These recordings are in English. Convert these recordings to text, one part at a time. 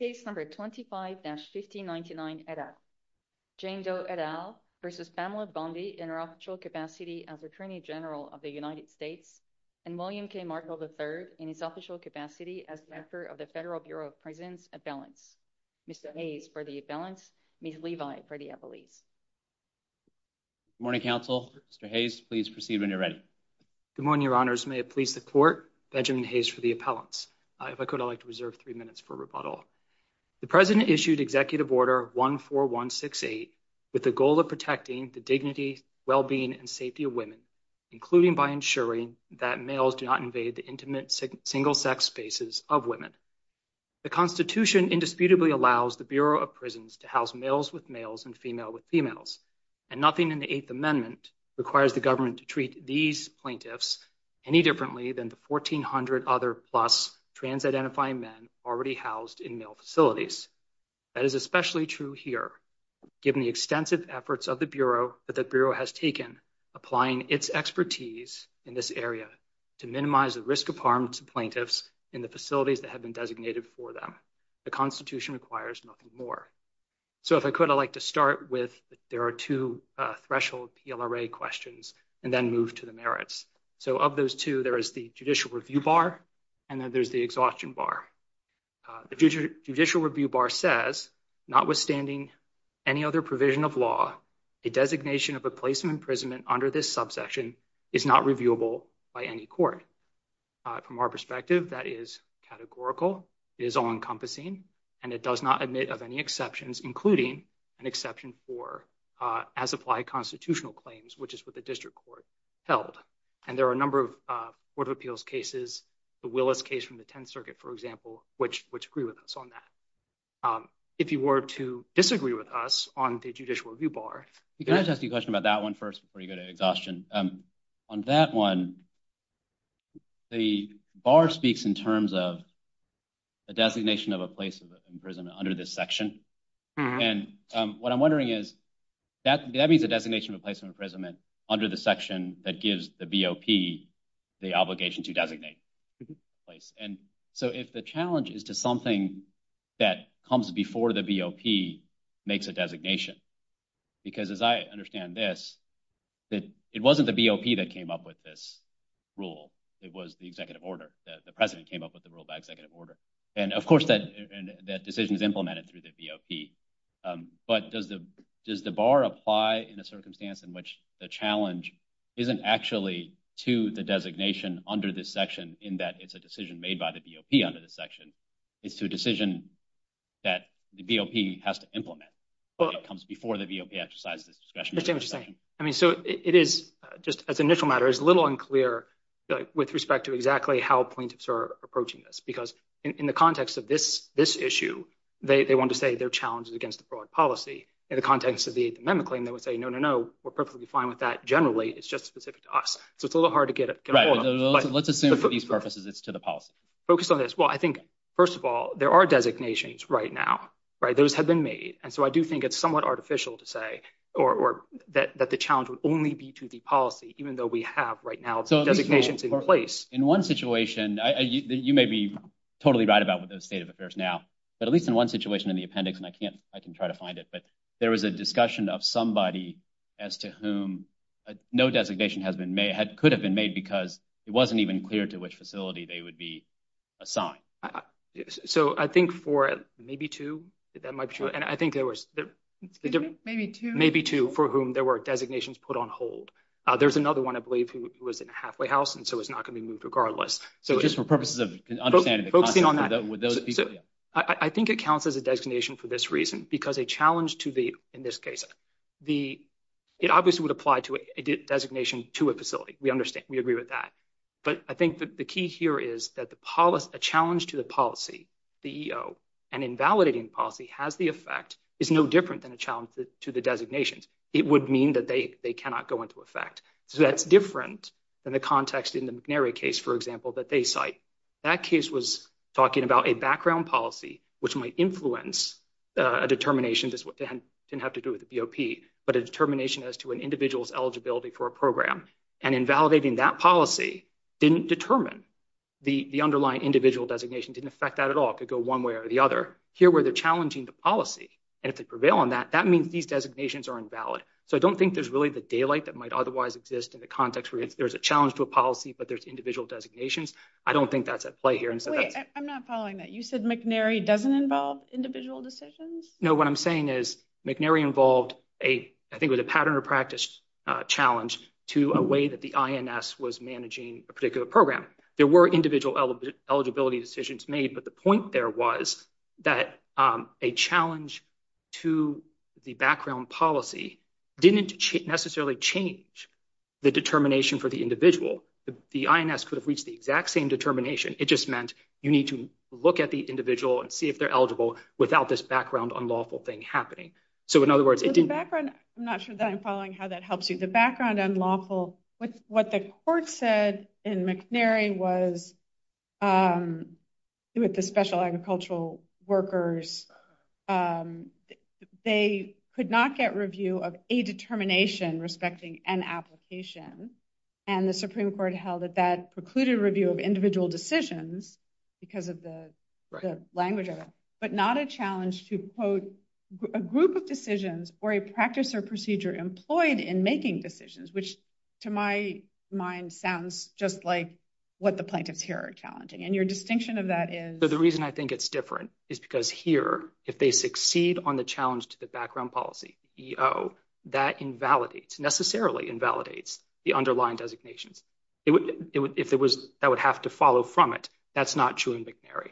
in her official capacity as Attorney General of the United States, and William K. Markle III in his official capacity as Director of the Federal Bureau of Pregnancy Appellants. Mr. Hayes for the appellants, Ms. Levi for the appellees. Good morning, counsel. Mr. Hayes, please proceed when you're ready. Good morning, Your Honors. May it please the Court, Benjamin Hayes for the appellants. If I could, I'd like to reserve three minutes for rebuttal. The President issued Executive Order 14168 with the goal of protecting the dignity, well-being, and safety of women, including by ensuring that males do not invade the intimate single-sex spaces of women. The Constitution indisputably allows the Bureau of Prisons to house males with males and females with females, and nothing in the Eighth Amendment requires the government to treat these plaintiffs any differently than the 1,400 other plus trans-identifying men already housed in male facilities. That is especially true here, given the extensive efforts of the Bureau that the Bureau has taken applying its expertise in this area to minimize the risk of harm to plaintiffs in the facilities that have been designated for them. The Constitution requires nothing more. So if I could, I'd like to start with there are two threshold PLRA questions and then move to the merits. So of those two, there is the Judicial Review Bar, and then there's the Exhaustion Bar. The Judicial Review Bar says, notwithstanding any other provision of law, a designation of a place of imprisonment under this subsection is not reviewable by any court. From our perspective, that is categorical. It is all-encompassing, and it does not admit of any exceptions, including an exception for as-applied constitutional claims, which is what the district court held. And there are a number of court of appeals cases, the Willis case from the Tenth Circuit, for example, which agree with us on that. If you were to disagree with us on the Judicial Review Bar… Can I just ask you a question about that one first before you go to exhaustion? On that one, the bar speaks in terms of a designation of a place of imprisonment under this section. And what I'm wondering is, that means a designation of a place of imprisonment under the section that gives the BOP the obligation to designate a place. And so if the challenge is to something that comes before the BOP makes a designation, because as I understand this, it wasn't the BOP that came up with this rule. It was the Executive Order. The President came up with the rule by Executive Order. And, of course, that decision is implemented through the BOP. But does the bar apply in a circumstance in which the challenge isn't actually to the designation under this section in that it's a decision made by the BOP under this section? It's a decision that the BOP has to implement. It comes before the BOP exercises the discretion of the section. So it is, just as an initial matter, it's a little unclear with respect to exactly how plaintiffs are approaching this, because in the context of this issue, they want to say their challenge is against the fraud policy. In the context of the amendment claim, they would say, no, no, no, we're perfectly fine with that. Generally, it's just specific to us. So it's a little hard to get it. Let's assume for these purposes it's to the policy. Focus on this. Well, I think, first of all, there are designations right now. Those have been made. And so I do think it's somewhat artificial to say that the challenge would only be to the policy, even though we have right now designations in place. In one situation, you may be totally right about what the state of affairs now, but at least in one situation in the appendix, and I can try to find it, but there is a discussion of somebody as to whom no designation could have been made because it wasn't even clear to which facility they would be assigned. So I think for maybe two, and I think there was maybe two for whom there were designations put on hold. There's another one, I believe, who was in a halfway house, and so it's not going to be moved regardless. So just for purposes of focusing on that, I think it counts as a designation for this reason, because a challenge to the, in this case, it obviously would apply to a designation to a facility. We understand. We agree with that. But I think that the key here is that a challenge to the policy, the EO, and invalidating policy has the effect, is no different than a challenge to the designation. It would mean that they cannot go into effect. So that's different than the context in the McNary case, for example, that they cite. That case was talking about a background policy, which might influence a determination that didn't have to do with the BOP, but a determination as to an individual's eligibility for a program. And invalidating that policy didn't determine the underlying individual designation, didn't affect that at all. It could go one way or the other. Here, where they're challenging the policy, and if they prevail on that, that means these designations are invalid. So I don't think there's really the daylight that might otherwise exist in the context where there's a challenge to a policy, but there's individual designations. I don't think that's at play here. Wait, I'm not following that. You said McNary doesn't involve individual decisions? No, what I'm saying is McNary involved a, I think it was a pattern or practice challenge to a way that the INS was managing a particular program. There were individual eligibility decisions made, but the point there was that a challenge to the background policy didn't necessarily change the determination for the individual. The INS could have reached the exact same determination. It just meant you need to look at the individual and see if they're eligible without this background unlawful thing happening. I'm not sure that I'm following how that helps you. The background unlawful, what the court said in McNary was with the special agricultural workers, they could not get review of a determination respecting an application, and the Supreme Court held that that precluded review of individual decisions because of the language of it, but not a challenge to, quote, a group of decisions or a practice or procedure employed in making decisions, which to my mind sounds just like what the plaintiffs here are challenging. And your distinction of that is? So the reason I think it's different is because here, if they succeed on the challenge to the background policy, EO, that invalidates, necessarily invalidates the underlying designation. If it was, I would have to follow from it. That's not true in McNary,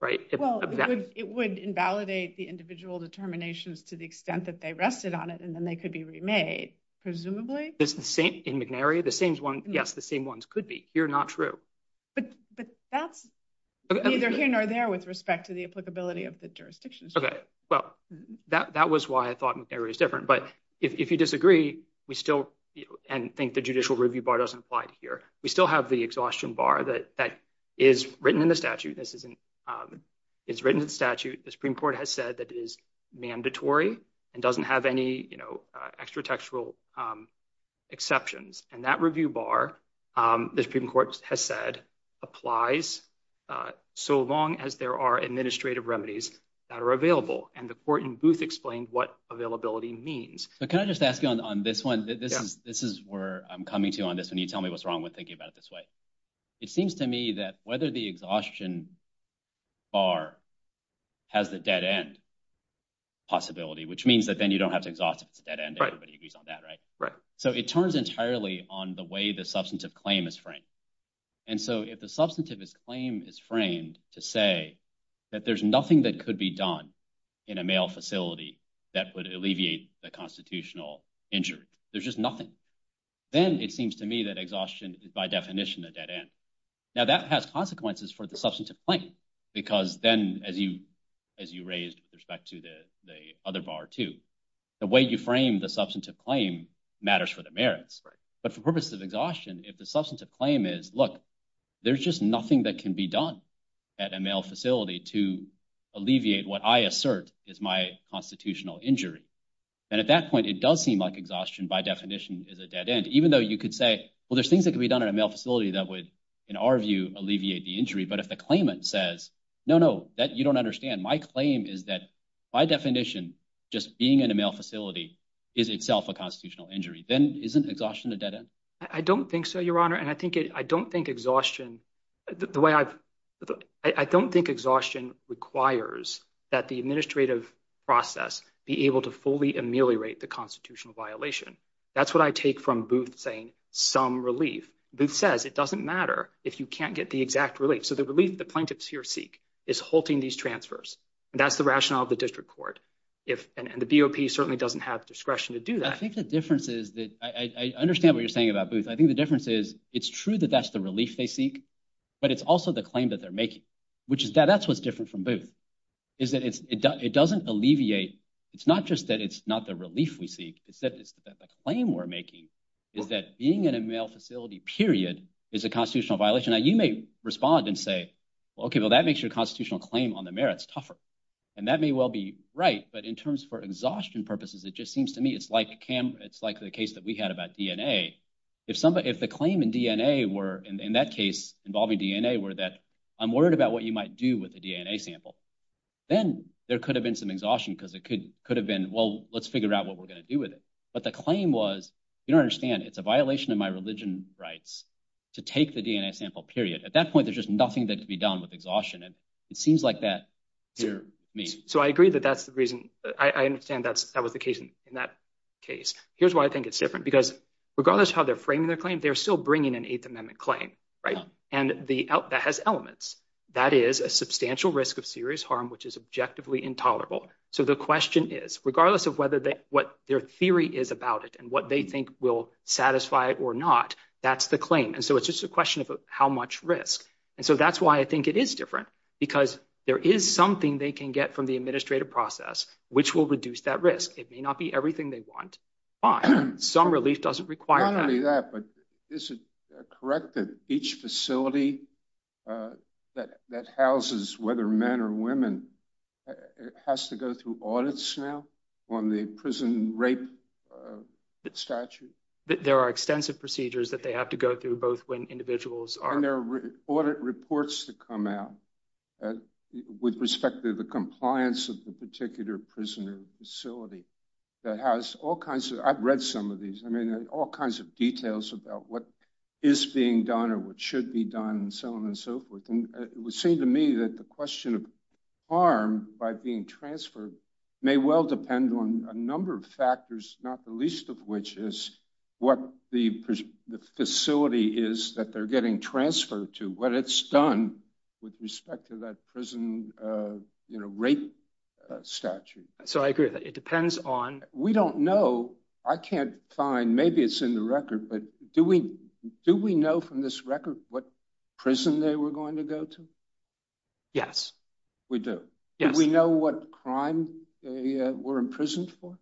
right? Well, it would invalidate the individual determinations to the extent that they rested on it, and then they could be remade, presumably. In McNary, the same ones could be. Here, not true. But that's either here nor there with respect to the applicability of the jurisdiction. Okay. Well, that was why I thought McNary was different. But if you disagree, we still, and I think the judicial review bar doesn't apply here, we still have the exhaustion bar that is written in the statute. This isn't – it's written in the statute. The Supreme Court has said that it is mandatory and doesn't have any extra textual exceptions. And that review bar, the Supreme Court has said, applies so long as there are administrative remedies that are available. And the court in Booth explained what availability means. But can I just ask you on this one? This is where I'm coming to on this, and you tell me what's wrong with thinking about it this way. It seems to me that whether the exhaustion bar has the dead end possibility, which means that then you don't have to exhaust it to the dead end if everybody agrees on that, right? Right. So it turns entirely on the way the substantive claim is framed. And so if the substantive claim is framed to say that there's nothing that could be done in a male facility that would alleviate the constitutional injury, there's just nothing, then it seems to me that exhaustion is by definition the dead end. Now, that has consequences for the substantive claim because then, as you raised with respect to the other bar too, the way you frame the substantive claim matters for the merits. But for purposes of exhaustion, if the substantive claim is, look, there's just nothing that can be done at a male facility to alleviate what I assert is my constitutional injury, then at that point it does seem like exhaustion by definition is a dead end. Even though you could say, well, there's things that could be done in a male facility that would, in our view, alleviate the injury. But if the claimant says, no, no, you don't understand. My claim is that by definition just being in a male facility is itself a constitutional injury. Then isn't exhaustion the dead end? I don't think so, Your Honor. And I don't think exhaustion requires that the administrative process be able to fully ameliorate the constitutional violation. That's what I take from Booth saying some relief. Booth says it doesn't matter if you can't get the exact relief. So the relief the plaintiffs here seek is halting these transfers, and that's the rationale of the district court. And the BOP certainly doesn't have discretion to do that. I think the difference is that – I understand what you're saying about Booth. I think the difference is it's true that that's the relief they seek, but it's also the claim that they're making, which is – that's what's different from Booth is that it doesn't alleviate – it's not just that it's not the relief we seek. It's that the claim we're making is that being in a male facility, period, is a constitutional violation. Now, you may respond and say, well, okay, well, that makes your constitutional claim on the merits tougher. And that may well be right, but in terms for exhaustion purposes, it just seems to me it's like the case that we had about DNA. If the claim in DNA were – in that case involving DNA were that I'm worried about what you might do with the DNA sample, then there could have been some exhaustion because it could have been, well, let's figure out what we're going to do with it. But the claim was you don't understand. It's a violation of my religion rights to take the DNA sample, period. At that point, there's just nothing that can be done with exhaustion, and it seems like that's what you're meaning. So I agree that that's the reason. I understand that was the case in that case. Here's why I think it's different, because regardless of how they're framing their claim, they're still bringing an Eighth Amendment claim, right, that has elements. That is a substantial risk of serious harm, which is objectively intolerable. So the question is, regardless of what their theory is about it and what they think will satisfy it or not, that's the claim. And so it's just a question of how much risk. And so that's why I think it is different, because there is something they can get from the administrative process which will reduce that risk. It may not be everything they want, but some relief doesn't require that. Not only that, but is it correct that each facility that houses whether men or women has to go through audits now on the prison rape statute? There are extensive procedures that they have to go through both when individuals are- when there are audit reports to come out with respect to the compliance of the particular prison or facility that has all kinds of- I've read some of these. I mean, all kinds of details about what is being done or what should be done and so on and so forth. And it would seem to me that the question of harm by being transferred may well depend on a number of factors, not the least of which is what the facility is that they're getting transferred to, what it's done with respect to that prison rape statute. So I agree with that. It depends on- We don't know. I can't find- maybe it's in the record, but do we know from this record what prison they were going to go to? Yes. We do? Yes. Do we know what crime they were imprisoned for?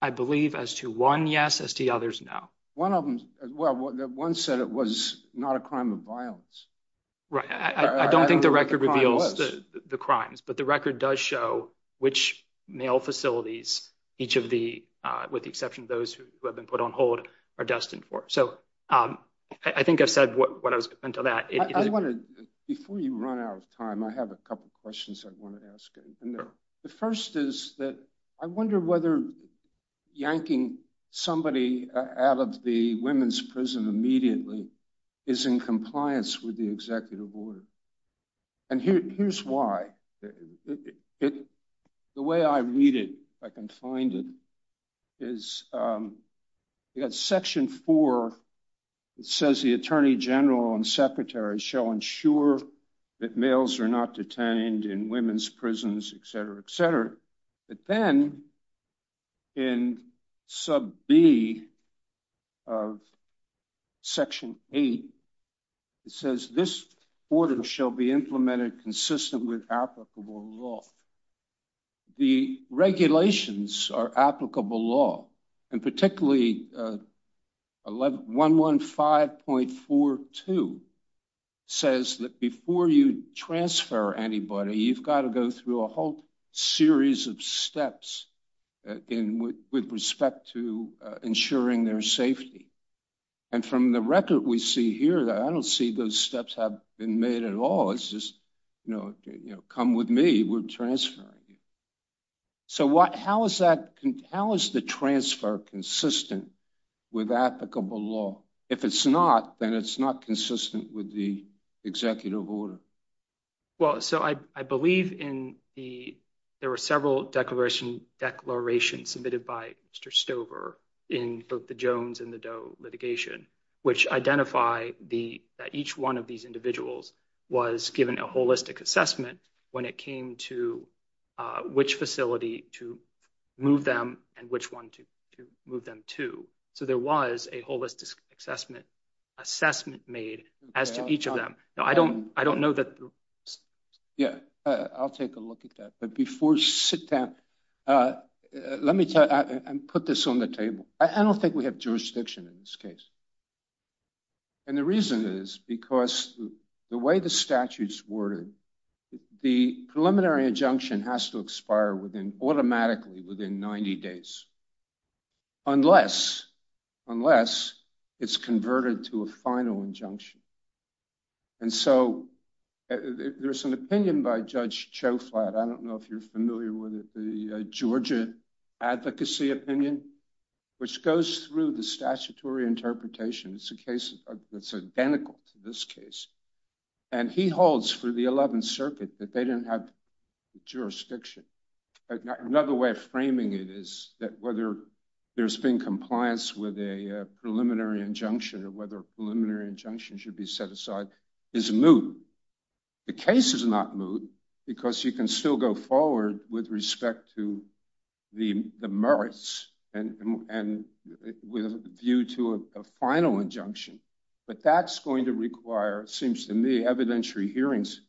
I believe as to one yes, as to the others, no. One of them- well, one said it was not a crime of violence. Right. I don't think the record reveals the crimes, but the record does show which male facilities each of the- with the exception of those who have been put on hold are destined for. So I think I said what I was going to say to that. Before you run out of time, I have a couple of questions I want to ask. The first is that I wonder whether yanking somebody out of the women's prison immediately is in compliance with the executive order. And here's why. The way I read it, if I can find it, is in section four, it says the attorney general and secretary shall ensure that males are not detained in women's prisons, etc., etc. But then in sub B of section 8, it says this order shall be implemented consistent with applicable law. The regulations are applicable law, and particularly 115.42 says that before you transfer anybody, you've got to go through a whole series of steps with respect to ensuring their safety. And from the record we see here, I don't see those steps have been made at all. It's just, you know, come with me, we're transferring. So how is the transfer consistent with applicable law? If it's not, then it's not consistent with the executive order. Well, so I believe in the – there were several declarations submitted by Mr. Stover in both the Jones and the Doe litigation, which identify that each one of these individuals was given a holistic assessment when it came to which facility to move them and which one to move them to. So there was a holistic assessment made as to each of them. Now, I don't know that – Yeah, I'll take a look at that. But before you sit down, let me put this on the table. I don't think we have jurisdiction in this case. And the reason is because the way the statute's worded, the preliminary injunction has to expire automatically within 90 days, unless it's converted to a final injunction. And so there's an opinion by Judge Chauflat, I don't know if you're familiar with it, the Georgia advocacy opinion, which goes through the statutory interpretation. It's a case that's identical to this case. And he holds for the 11th Circuit that they didn't have jurisdiction. Another way of framing it is that whether there's been compliance with a preliminary injunction and whether a preliminary injunction should be set aside is moot. The case is not moot because you can still go forward with respect to the merits due to a final injunction. But that's going to require, it seems to me, evidentiary hearings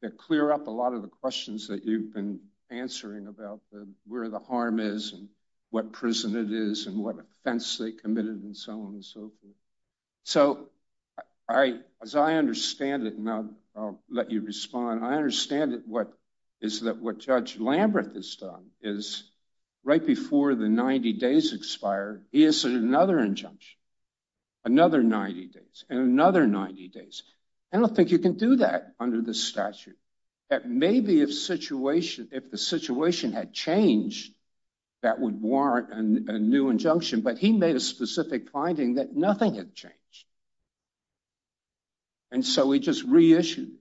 that clear up a lot of the questions that you've been answering about where the harm is and what prison it is and what offense they committed and so on and so forth. So as I understand it, and I'll let you respond, I understand that what Judge Lambert has done is right before the 90 days expire, he has another injunction, another 90 days, and another 90 days. I don't think you can do that under the statute. Maybe if the situation had changed, that would warrant a new injunction. But he made a specific finding that nothing had changed. And so he just reissued.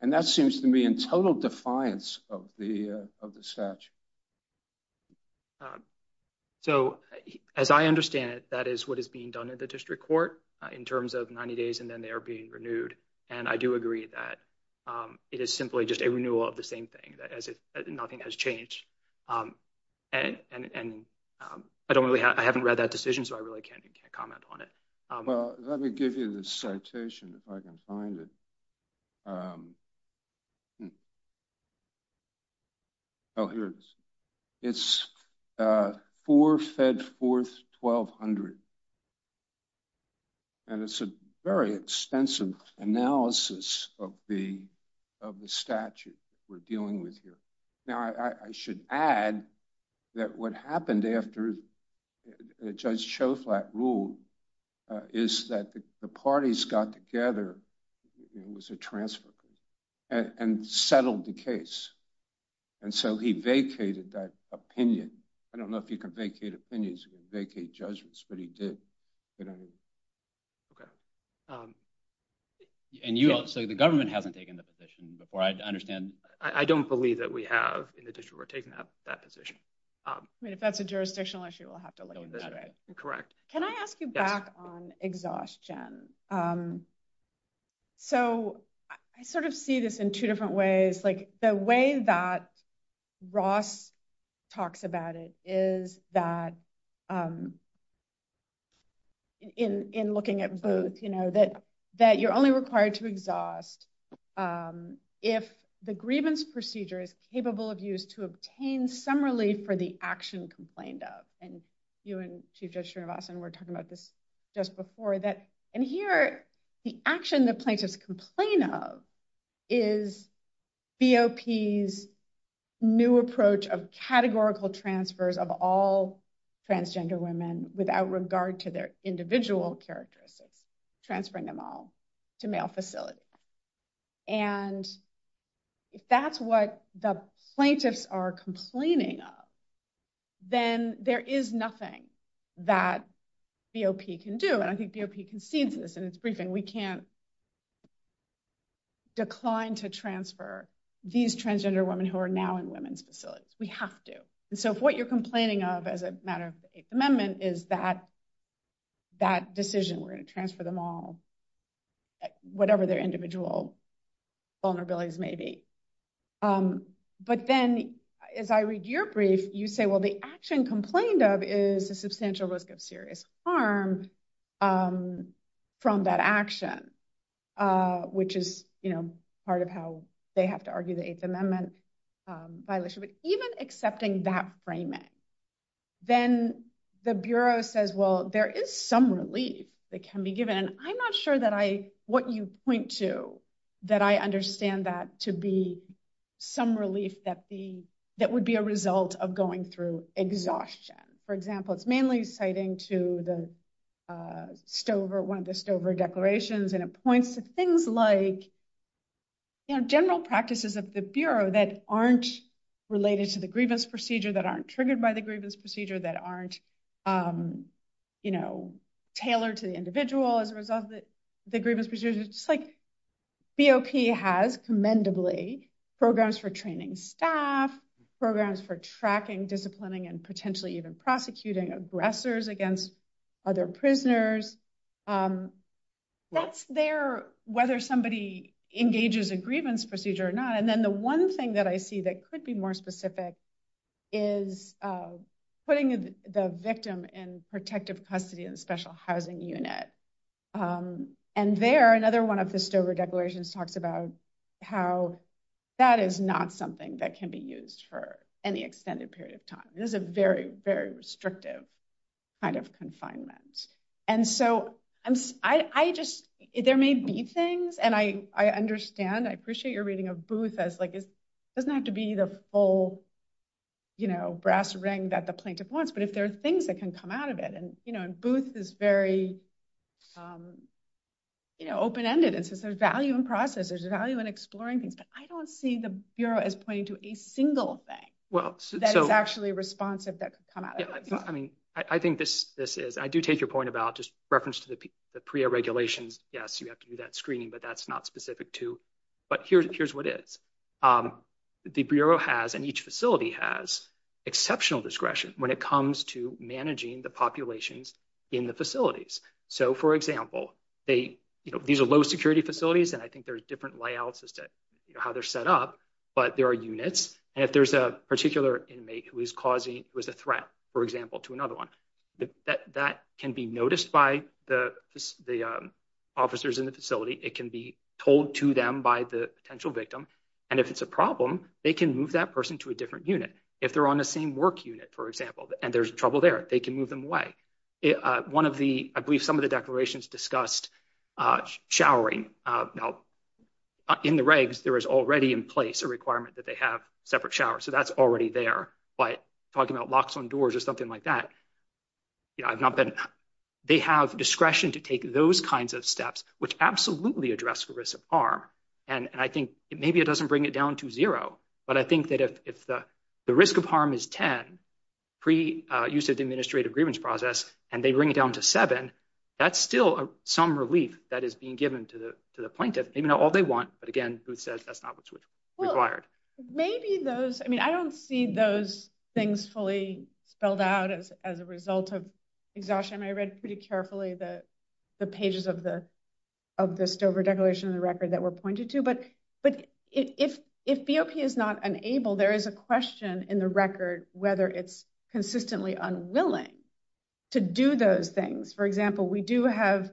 And that seems to me in total defiance of the statute. So as I understand it, that is what is being done in the district court in terms of 90 days and then they are being renewed. And I do agree that it is simply just a renewal of the same thing, that nothing has changed. And I don't really, I haven't read that decision, so I really can't comment on it. Let me give you the citation if I can find it. Oh, here it is. It's for FedForth 1200. And it's a very extensive analysis of the statute we're dealing with here. Now, I should add that what happened after Judge Choflat ruled is that the parties got together, it was a transfer case, and settled the case. And so he vacated that opinion. I don't know if he could vacate opinions or vacate judgments, but he did. And you also, the government hasn't taken the position, before I understand. I don't believe that we have in the district court taken up that position. I mean, if that's a jurisdictional issue, we'll have to look at it. Correct. Can I ask you back on exhaustion? So, I sort of see this in two different ways. Like, the way that Ross talks about it is that in looking at Booth, you know, that you're only required to exhaust if the grievance procedure is capable of use to obtain some relief for the action complained of. And you and Chief Judge Srinivasan were talking about this just before. And here, the action the plaintiffs complain of is BOP's new approach of categorical transfers of all transgender women without regard to their individual characteristics, transferring them all to male facilities. And if that's what the plaintiffs are complaining of, then there is nothing that BOP can do. And I think BOP concedes this in its briefing. We can't decline to transfer these transgender women who are now in women's facilities. We have to. And so, if what you're complaining of as a matter of the Eighth Amendment is that decision, we're going to transfer them all, whatever their individual vulnerabilities may be. But then, as I read your brief, you say, well, the action complained of is a substantial risk of serious harm from that action, which is part of how they have to argue the Eighth Amendment violation. So even accepting that framing, then the Bureau says, well, there is some relief that can be given. And I'm not sure that what you point to, that I understand that to be some relief that would be a result of going through exhaustion. For example, it's mainly citing to one of the Stover declarations, and it points to things like general practices of the Bureau that aren't related to the grievance procedure, that aren't triggered by the grievance procedure, that aren't tailored to the individual as a result of the grievance procedure. It's like BOP has, commendably, programs for training staff, programs for tracking, disciplining, and potentially even prosecuting aggressors against other prisoners. That's there, whether somebody engages a grievance procedure or not. And then the one thing that I see that could be more specific is putting the victim in protective custody in a special housing unit. And there, another one of the Stover declarations talks about how that is not something that can be used for any extended period of time. It is a very, very restrictive kind of confinement. And so I just, there may be things, and I understand, I appreciate your reading of Booth as like, it doesn't have to be the full brass ring that the plaintiff wants, but if there are things that can come out of it, and Booth is very open-ended. And so there's value in process, there's value in exploring things, but I don't see the Bureau as pointing to a single thing that is actually responsive that can come out of it. I mean, I think this is, I do take your point about just reference to the PREA regulations. Yes, you have to do that screening, but that's not specific to, but here's what it is. The Bureau has, and each facility has, exceptional discretion when it comes to managing the populations in the facilities. So, for example, these are low security facilities, and I think there's different layouts as to how they're set up, but there are units, and if there's a particular inmate who is causing, who is a threat, for example, to another one, that can be noticed by the officers in the facility. It can be told to them by the potential victim, and if it's a problem, they can move that person to a different unit. If they're on the same work unit, for example, and there's trouble there, they can move them away. One of the, I believe some of the declarations discussed showering. In the regs, there is already in place a requirement that they have separate showers, so that's already there. But talking about locks on doors or something like that, I've not been, they have discretion to take those kinds of steps, which absolutely address the risk of harm. And I think maybe it doesn't bring it down to zero, but I think that if the risk of harm is 10, pre-use of the administrative grievance process, and they bring it down to seven, that's still some relief that is being given to the plaintiff. Maybe not all they want, but again, Booth says that's not what's required. Well, maybe those, I mean, I don't see those things fully spelled out as a result of exhaustion. I read pretty carefully the pages of the Stover declaration and record that were pointed to, but if BOP is not enabled, there is a question in the record whether it's consistently unwilling to do those things. For example, we do have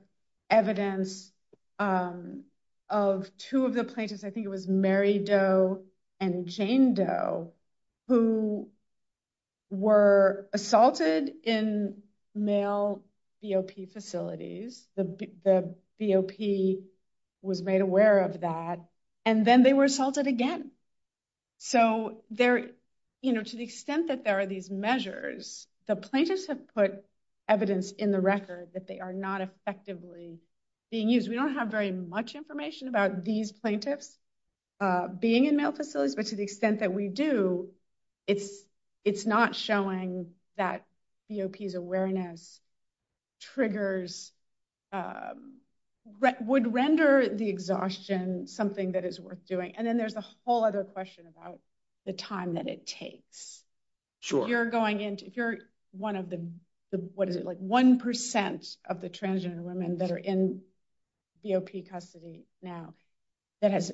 evidence of two of the plaintiffs, I think it was Mary Doe and Jane Doe, who were assaulted in male BOP facilities. The BOP was made aware of that, and then they were assaulted again. So to the extent that there are these measures, the plaintiffs have put evidence in the record that they are not effectively being used. We don't have very much information about these plaintiffs being in male facilities, but to the extent that we do, it's not showing that BOP's awareness triggers, would render the exhaustion something that is worth doing. And then there's a whole other question about the time that it takes. Sure. You're going into, you're one of the, what is it, like 1% of the transgender women that are in BOP custody now that has,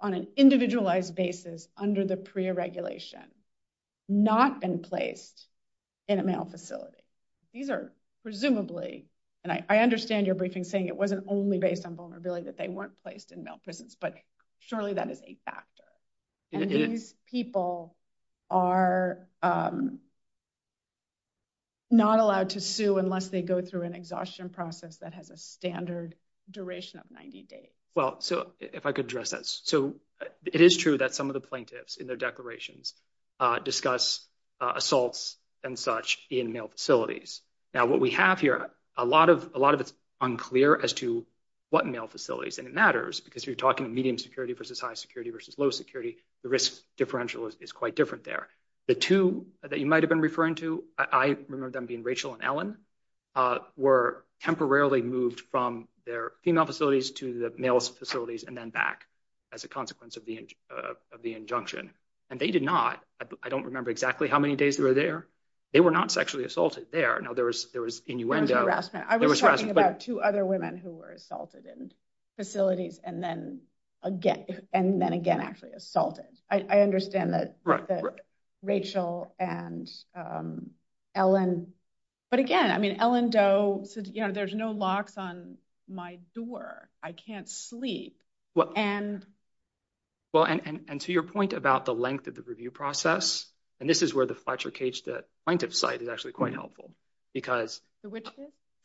on an individualized basis, under the PREA regulation, not been placed in a male facility. These are presumably, and I understand your briefing saying it wasn't only based on vulnerability, that they weren't placed in male prisons, but surely that is a factor. And these people are not allowed to sue unless they go through an exhaustion process that has a standard duration of 90 days. Well, so if I could address that. So it is true that some of the plaintiffs in their declarations discuss assaults and such in male facilities. Now what we have here, a lot of it's unclear as to what male facilities, and it matters because you're talking medium security versus high security versus low security, the risk differential is quite different there. The two that you might have been referring to, I remember them being Rachel and Ellen, were temporarily moved from their female facilities to the male facilities and then back as a consequence of the injunction. And they did not, I don't remember exactly how many days they were there, they were not sexually assaulted there. I was talking about two other women who were assaulted in facilities and then again actually assaulted. I understand that Rachel and Ellen, but again, I mean, Ellen Doe said, you know, there's no locks on my door, I can't sleep. Well, and to your point about the length of the review process, and this is where the Fletcher case, the plaintiff's side is actually quite helpful, because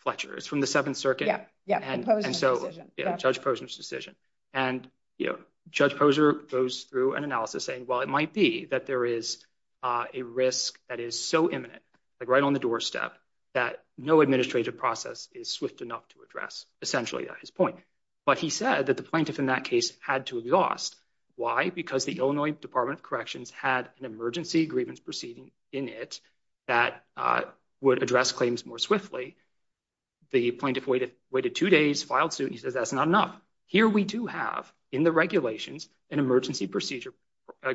Fletcher is from the Seventh Circuit, and so Judge Posner's decision. And, you know, Judge Posner goes through an analysis saying, well, it might be that there is a risk that is so imminent, like right on the doorstep, that no administrative process is swift enough to address essentially his point. But he said that the plaintiff in that case had to exhaust. Why? Because the Illinois Department of Corrections had an emergency grievance proceeding in it that would address claims more swiftly. The plaintiff waited two days, filed suit, and he said that's not enough. Here we do have in the regulations an emergency procedure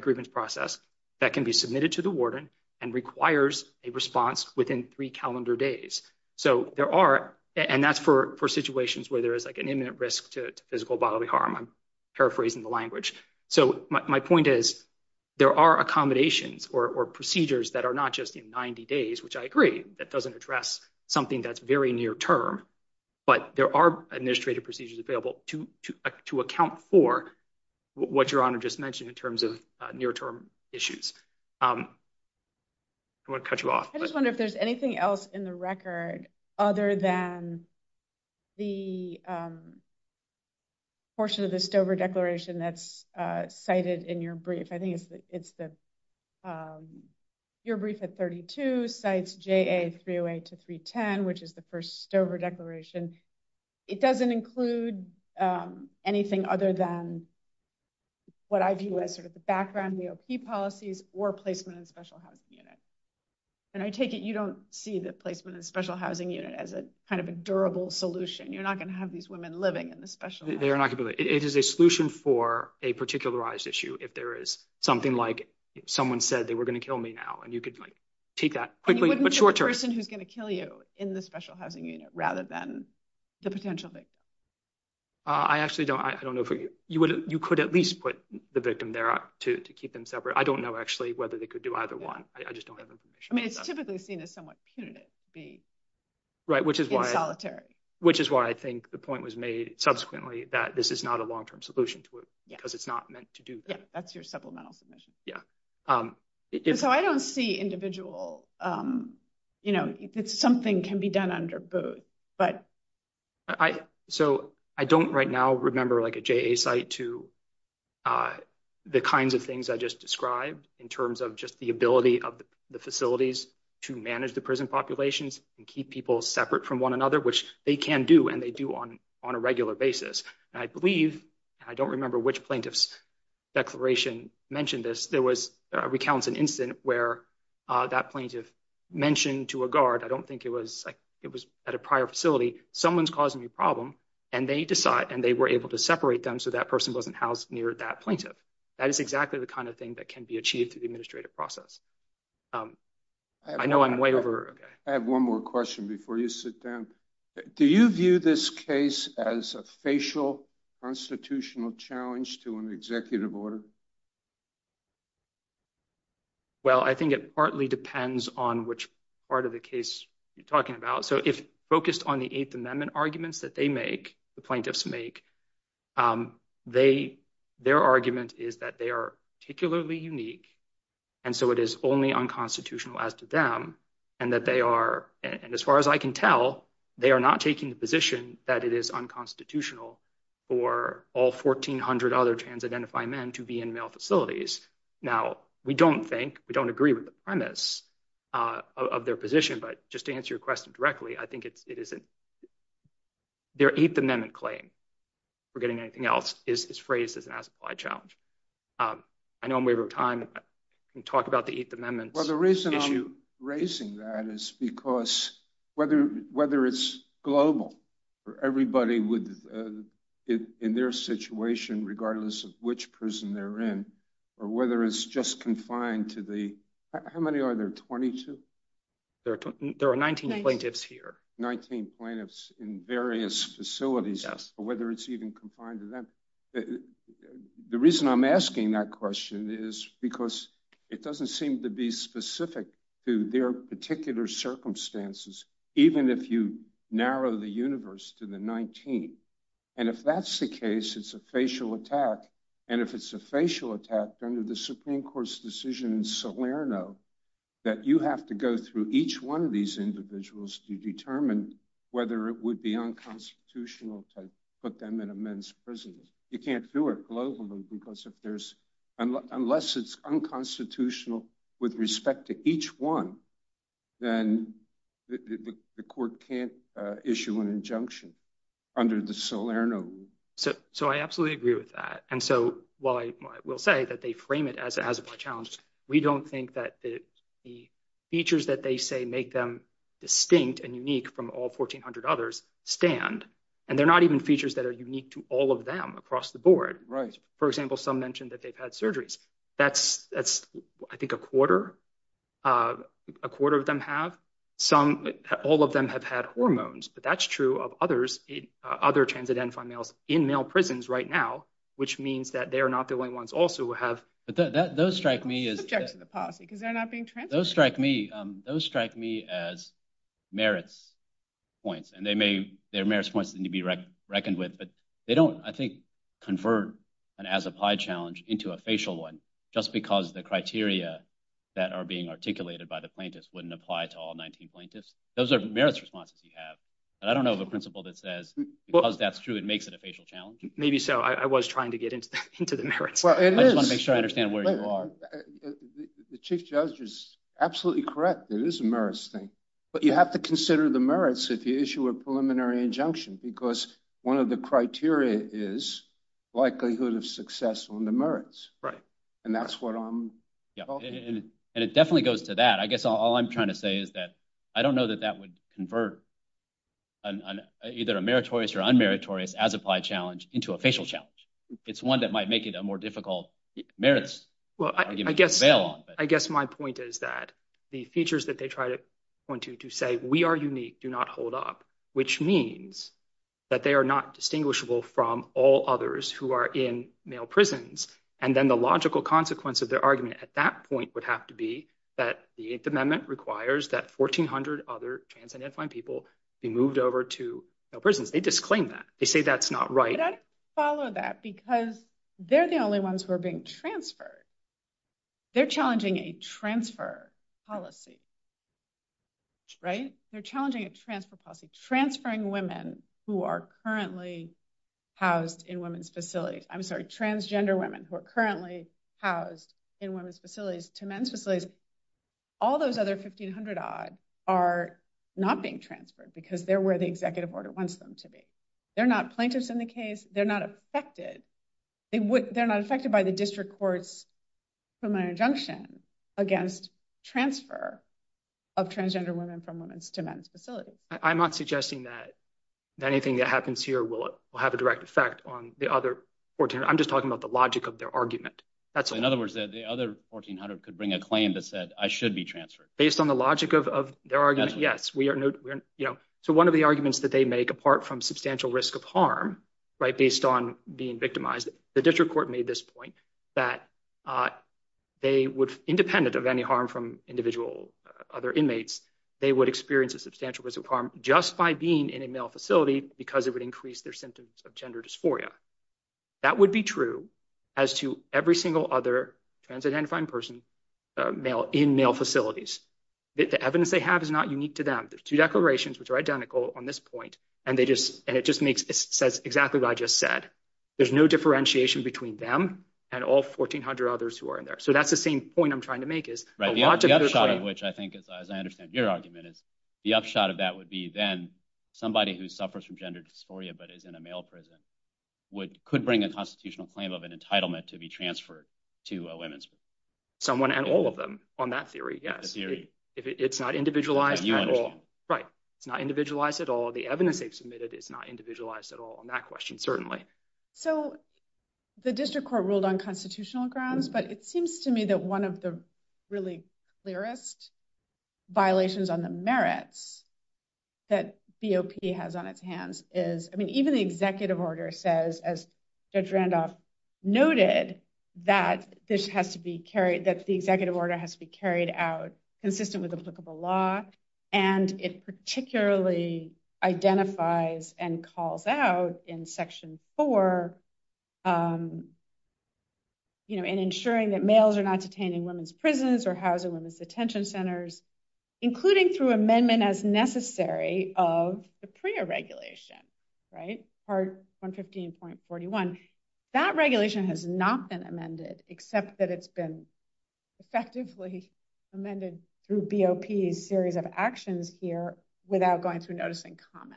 grievance process that can be submitted to the warden and requires a response within three calendar days. So there are, and that's for situations where there is like an imminent risk to physical bodily harm, I'm paraphrasing the language. So my point is, there are accommodations or procedures that are not just in 90 days, which I agree, that doesn't address something that's very near term. But there are administrative procedures available to account for what Your Honor just mentioned in terms of near term issues. I'm going to cut you off. I just wonder if there's anything else in the record other than the portion of the Stover Declaration that's cited in your brief. I think it's the, your brief at 32 cites JA 308 to 310, which is the first Stover Declaration. It doesn't include anything other than what I view as sort of the background EOP policies or placement in special housing units. And I take it you don't see the placement of special housing unit as a kind of a durable solution. You're not going to have these women living in the special housing unit. It is a solution for a particularized issue. If there is something like someone said they were going to kill me now, and you could take that quickly, but short term. You wouldn't put the person who's going to kill you in the special housing unit rather than the potential victim. I actually don't know. You could at least put the victim there to keep them separate. I don't know actually whether they could do either one. I just don't have information. I mean, it's typically seen as somewhat punitive to be in solitary. Right, which is why I think the point was made subsequently that this is not a long term solution to it because it's not meant to do that. Yeah, that's your supplemental submission. Yeah. So I don't see individual, you know, something can be done under both. So I don't right now remember like a JA site to the kinds of things I just described in terms of just the ability of the facilities to manage the prison populations and keep people separate from one another, which they can do and they do on a regular basis. I believe, I don't remember which plaintiff's declaration mentioned this, there was recounts an incident where that plaintiff mentioned to a guard, I don't think it was at a prior facility, someone's causing a problem and they decide and they were able to separate them so that person wasn't housed near that plaintiff. That is exactly the kind of thing that can be achieved through the administrative process. I know I'm way over. I have one more question before you sit down. Do you view this case as a facial constitutional challenge to an executive order? Well, I think it partly depends on which part of the case you're talking about. So if focused on the Eighth Amendment arguments that they make, the plaintiffs make, their argument is that they are particularly unique. And so it is only unconstitutional as to them and that they are, and as far as I can tell, they are not taking the position that it is unconstitutional for all 1,400 other trans-identified men to be in male facilities. Now, we don't think, we don't agree with the premise of their position, but just to answer your question directly, I think it isn't. Their Eighth Amendment claim, if we're getting anything else, is phrased as an as-applied challenge. I know I'm way over time. Can you talk about the Eighth Amendment issue? The issue raising that is because whether it's global, everybody would, in their situation, regardless of which prison they're in, or whether it's just confined to the, how many are there, 22? There are 19 plaintiffs here. 19 plaintiffs in various facilities. Yes. The reason I'm asking that question is because it doesn't seem to be specific to their particular circumstances, even if you narrow the universe to the 19th. And if that's the case, it's a facial attack, and if it's a facial attack, under the Supreme Court's decision in Salerno, that you have to go through each one of these individuals to determine whether it would be unconstitutional to put them in a men's prison. You can't do it globally, because unless it's unconstitutional with respect to each one, then the court can't issue an injunction under the Salerno rule. So I absolutely agree with that. And so while I will say that they frame it as a challenge, we don't think that the features that they say make them distinct and unique from all 1,400 others stand. And they're not even features that are unique to all of them across the board. For example, some mentioned that they've had surgeries. That's, I think, a quarter of them have. All of them have had hormones, but that's true of other trans and anti-males in male prisons right now, which means that they are not the only ones also who have— But those strike me as— Objection to policy, because they're not being trans— Those are merits responses you have. And I don't know of a principle that says because that's true, it makes it a facial challenge. Maybe so. I was trying to get into the merits. I just want to make sure I understand where you are. The chief judge is absolutely correct. It is a merits thing. But you have to consider the merits if you issue a preliminary injunction, because one of the criteria is likelihood of success on the merits. Right. And that's what I'm— And it definitely goes to that. I guess all I'm trying to say is that I don't know that that would convert either a meritorious or unmeritorious as-applied challenge into a facial challenge. It's one that might make it a more difficult merits. Well, I guess my point is that the features that they try to point to to say, we are unique, do not hold up, which means that they are not distinguishable from all others who are in male prisons. And then the logical consequence of their argument at that point would have to be that the Eighth Amendment requires that 1,400 other trans and infant people be moved over to male prisons. They disclaim that. They say that's not right. Let's follow that, because they're the only ones who are being transferred. They're challenging a transfer policy. Right. They're challenging a transfer policy. So transferring women who are currently housed in women's facilities—I'm sorry, transgender women who are currently housed in women's facilities to men's facilities, all those other 1,500-odd are not being transferred because they're where the executive order wants them to be. They're not plaintiffs in the case. They're not affected. They're not affected by the district court's criminal injunction against transfer of transgender women from women's to men's facilities. I'm not suggesting that anything that happens here will have a direct effect on the other 1,400. I'm just talking about the logic of their argument. In other words, the other 1,400 could bring a claim that said, I should be transferred. Based on the logic of their argument, yes. So one of the arguments that they make, apart from substantial risk of harm based on being victimized, the district court made this point that independent of any harm from individual other inmates, they would experience a substantial risk of harm just by being in a male facility because it would increase their symptoms of gender dysphoria. That would be true as to every single other trans-identifying person in male facilities. The evidence they have is not unique to them. There's two declarations which are identical on this point. And it just says exactly what I just said. There's no differentiation between them and all 1,400 others who are in there. So that's the same point I'm trying to make. The upshot of which I think, as I understand your argument, is the upshot of that would be then somebody who suffers from gender dysphoria but is in a male prison could bring a constitutional claim of an entitlement to be transferred to a women's facility. Someone and all of them on that theory, yes. It's not individualized at all. Right. It's not individualized at all. The evidence they've submitted is not individualized at all on that question, certainly. So the district court ruled on constitutional grounds. But it seems to me that one of the really clearest violations on the merits that COP has on its hands is, I mean, even the executive order says, as Judge Randolph noted, that the executive order has to be carried out consistent with applicable law. And it particularly identifies and calls out in Section 4, you know, in ensuring that males are not detained in women's prisons or housed in women's detention centers, including through amendment as necessary of the PREA regulation, right? Part 115.41. That regulation has not been amended except that it's been effectively amended through BOP's series of actions here without going through notice and comment.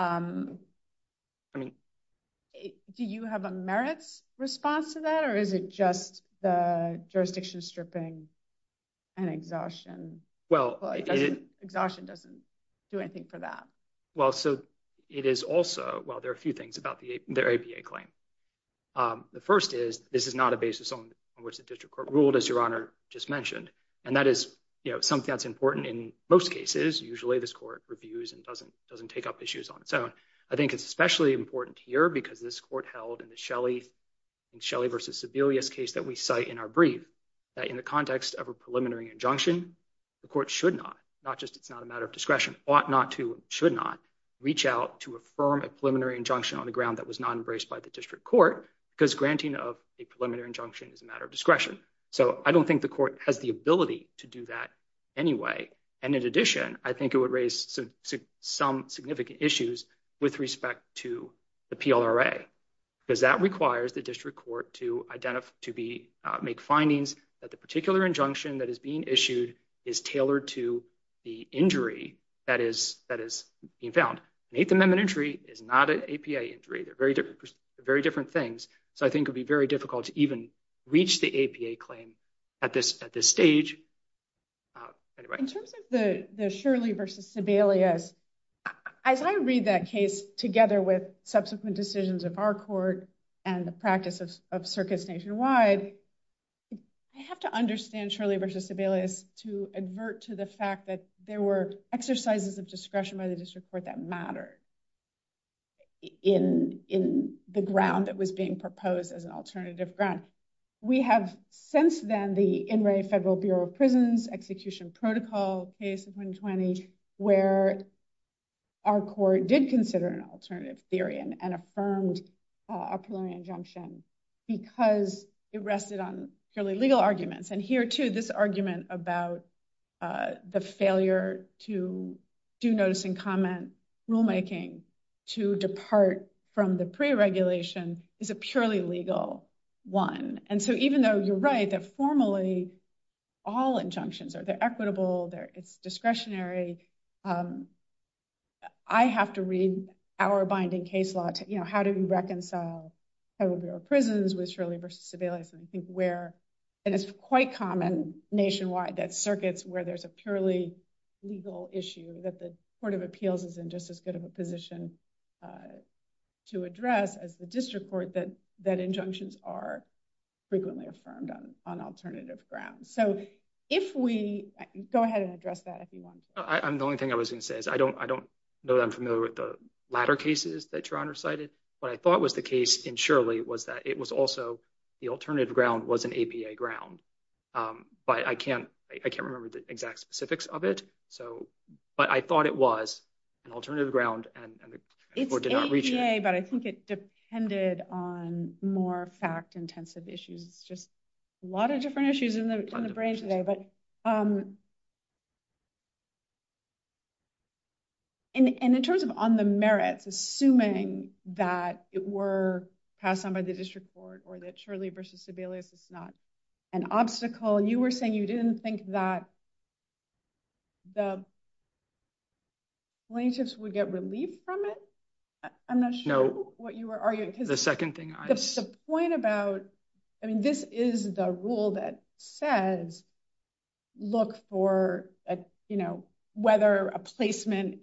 I mean, do you have a merit response to that? Or is it just the jurisdiction stripping and exhaustion? Well, it is. Exhaustion doesn't do anything for that. Well, so it is also, well, there are a few things about the ABA claim. The first is, this is not a basis on which the district court ruled, as Your Honor just mentioned. And that is, you know, something that's important in most cases. Usually this court reviews and doesn't take up issues on its own. I think it's especially important here because this court held in the Shelley versus Sebelius case that we cite in our brief that in the context of a preliminary injunction, the court should not, not just it's not a matter of discretion, ought not to, should not reach out to affirm a preliminary injunction on the ground that was not embraced by the district court because granting of a preliminary injunction is a matter of discretion. So I don't think the court has the ability to do that anyway. And in addition, I think it would raise some significant issues with respect to the PLRA. Because that requires the district court to identify, to be, make findings that the particular injunction that is being issued is tailored to the injury that is being found. An Eighth Amendment injury is not an APA injury. They're very different things. So I think it would be very difficult to even reach the APA claim at this stage. In terms of the Shirley versus Sebelius, as I read that case together with subsequent decisions of our court and the practice of circuits nationwide, I have to understand Shirley versus Sebelius to advert to the fact that there were exercises of discretion by the district court that mattered in the ground that was being proposed as an alternative ground. We have, since then, the Inmate Federal Bureau of Prisons Execution Protocol case of 2020, where our court did consider an alternative theory and affirmed a preliminary injunction because it rested on purely legal arguments. And here, too, this argument about the failure to do notice and comment rulemaking to depart from the pre-regulation is a purely legal one. And so even though you're right that formally all injunctions are equitable, they're discretionary, I have to read our binding case law. How do you reconcile Federal Bureau of Prisons with Shirley versus Sebelius? And it's quite common nationwide that circuits where there's a purely legal issue that the Court of Appeals is in just as good of a position to address as the district court, that injunctions are frequently affirmed on alternative grounds. So if we – go ahead and address that if you want. The only thing I was going to say is I don't know that I'm familiar with the latter cases that Your Honor cited. What I thought was the case in Shirley was that it was also – the alternative ground was an APA ground. But I can't remember the exact specifics of it, but I thought it was an alternative ground. It's APA, but I think it depended on more fact-intensive issues, just a lot of different issues in the brain today. But in terms of on the merits, assuming that it were passed on by the district court or that Shirley versus Sebelius is not an obstacle, you were saying you didn't think that the plaintiffs would get relief from it? I'm not sure what you were arguing. The point about – I mean, this is the rule that says look for whether a placement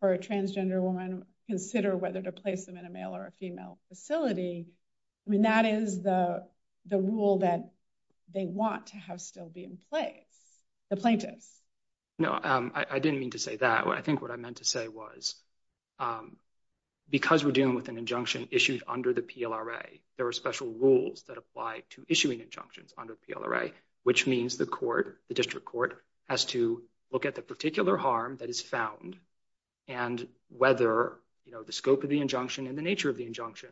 for a transgender woman, consider whether to place them in a male or a female facility. I mean, that is the rule that they want to have still be in play, the plaintiffs. No, I didn't mean to say that. I think what I meant to say was because we're dealing with an injunction issued under the PLRA, there are special rules that apply to issuing injunctions under PLRA, which means the court, the district court, has to look at the particular harm that is found and whether the scope of the injunction and the nature of the injunction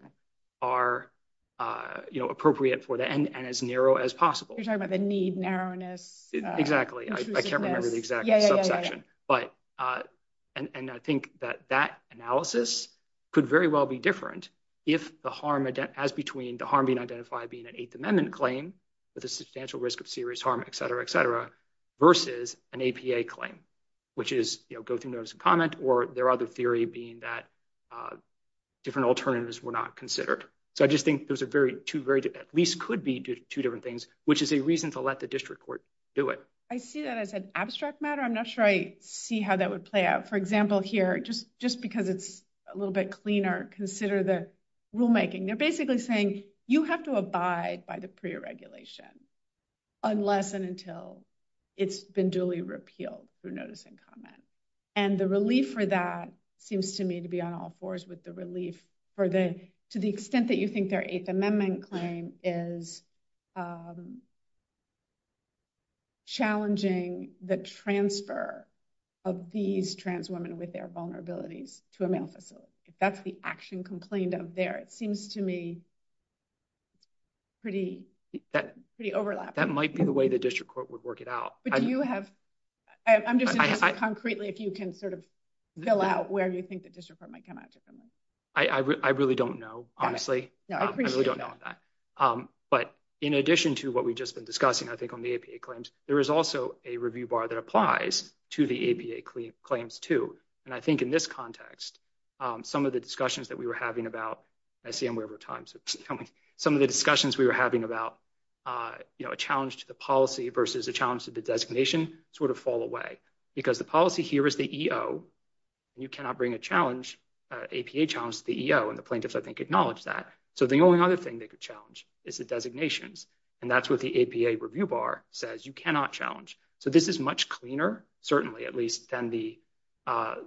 are appropriate for that and as narrow as possible. You're talking about the need narrowness. Exactly. I can't remember the exact subsection. I think that that analysis could very well be different if the harm – as between the harm being identified being an Eighth Amendment claim with a substantial risk of serious harm, et cetera, et cetera, versus an APA claim, which is go through notice and comment or their other theory being that different alternatives were not considered. I just think those are two very – at least could be two different things, which is a reason to let the district court do it. I see that as an abstract matter. I'm not sure I see how that would play out. For example, here, just because it's a little bit cleaner, consider the rulemaking. They're basically saying you have to abide by the pre-regulation unless and until it's been duly repealed through notice and comment. And the relief for that seems to me to be on all fours with the relief for the – to the extent that you think their Eighth Amendment claim is challenging the transfer of these trans women with their vulnerability to a male facility. That's the action complained of there. It seems to me pretty overlapping. That might be the way the district court would work it out. But do you have – I'm just interested concretely if you can sort of fill out where you think the district court might come out to some of this. I really don't know, honestly. I really don't know. But in addition to what we've just been discussing, I think, on the APA claims, there is also a review bar that applies to the APA claims, too. And I think in this context, some of the discussions that we were having about – I see I'm way over time. Some of the discussions we were having about a challenge to the policy versus a challenge to the designation sort of fall away. Because the policy here is the EO. You cannot bring a challenge, APA challenge, to the EO. And the plaintiffs, I think, acknowledge that. So the only other thing they could challenge is the designations. And that's what the APA review bar says. You cannot challenge. So this is much cleaner, certainly at least, than the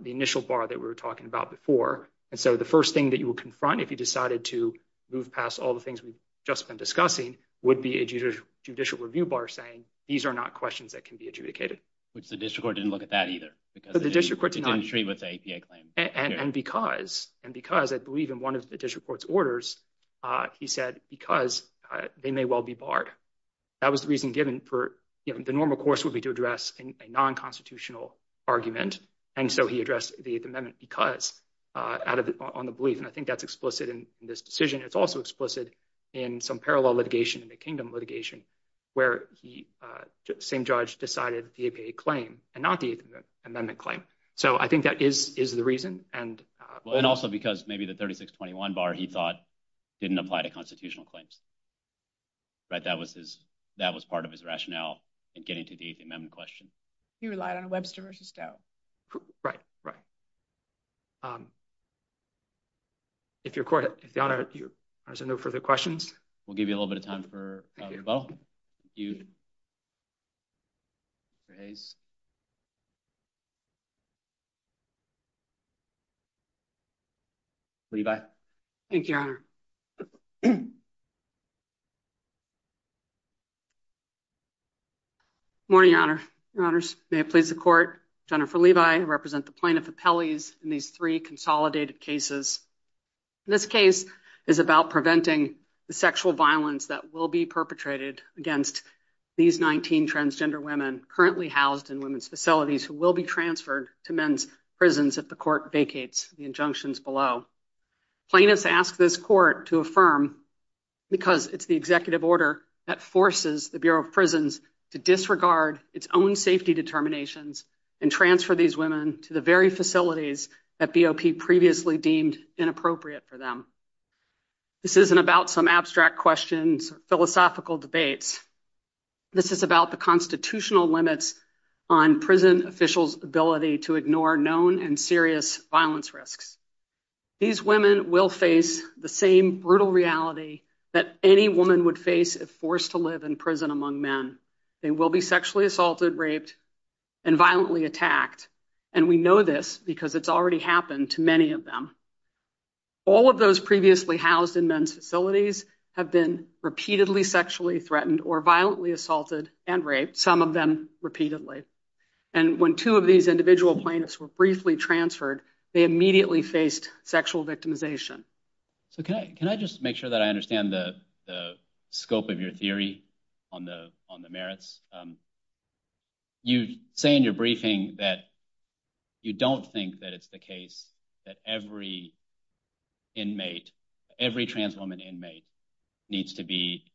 initial bar that we were talking about before. And so the first thing that you would confront if you decided to move past all the things we've just been discussing would be a judicial review bar saying these are not questions that can be adjudicated. The district court didn't look at that either. The district court did not. It didn't agree with the APA claim. And because – and because I believe in one of the district court's orders, he said because they may well be barred. That was the reason given for – you know, the normal course would be to address a nonconstitutional argument. And so he addressed the Eighth Amendment because – out of – on the belief. And I think that's explicit in this decision. It's also explicit in some parallel litigation, the Kingdom litigation, where the same judge decided the APA claim and not the Eighth Amendment claim. So I think that is the reason. Well, and also because maybe the 3621 bar, he thought, didn't apply to constitutional claims. But that was his – that was part of his rationale in getting to the Eighth Amendment question. He relied on Webster v. Doe. Right, right. If your court has no further questions. We'll give you a little bit of time for – well, if you'd raise. Levi. Thank you, Your Honor. Good morning, Your Honor. Your Honors, may it please the court. Jennifer Levi, I represent the plaintiff appellees in these three consolidated cases. This case is about preventing the sexual violence that will be perpetrated against these 19 transgender women currently housed in women's facilities who will be transferred to men's prisons if the court vacates the injunctions below. Plaintiffs ask this court to affirm because it's the executive order that forces the Bureau of Prisons to disregard its own safety determinations and transfer these women to the very facilities that BOP previously deemed inappropriate for them. This isn't about some abstract questions, philosophical debates. This is about the constitutional limits on prison officials' ability to ignore known and serious violence risks. These women will face the same brutal reality that any woman would face if forced to live in prison among men. They will be sexually assaulted, raped, and violently attacked. And we know this because it's already happened to many of them. All of those previously housed in men's facilities have been repeatedly sexually threatened or violently assaulted and raped, some of them repeatedly. And when two of these individual plaintiffs were briefly transferred, they immediately faced sexual victimization. Can I just make sure that I understand the scope of your theory on the merits? You say in your briefing that you don't think that it's the case that every trans woman inmate needs to be,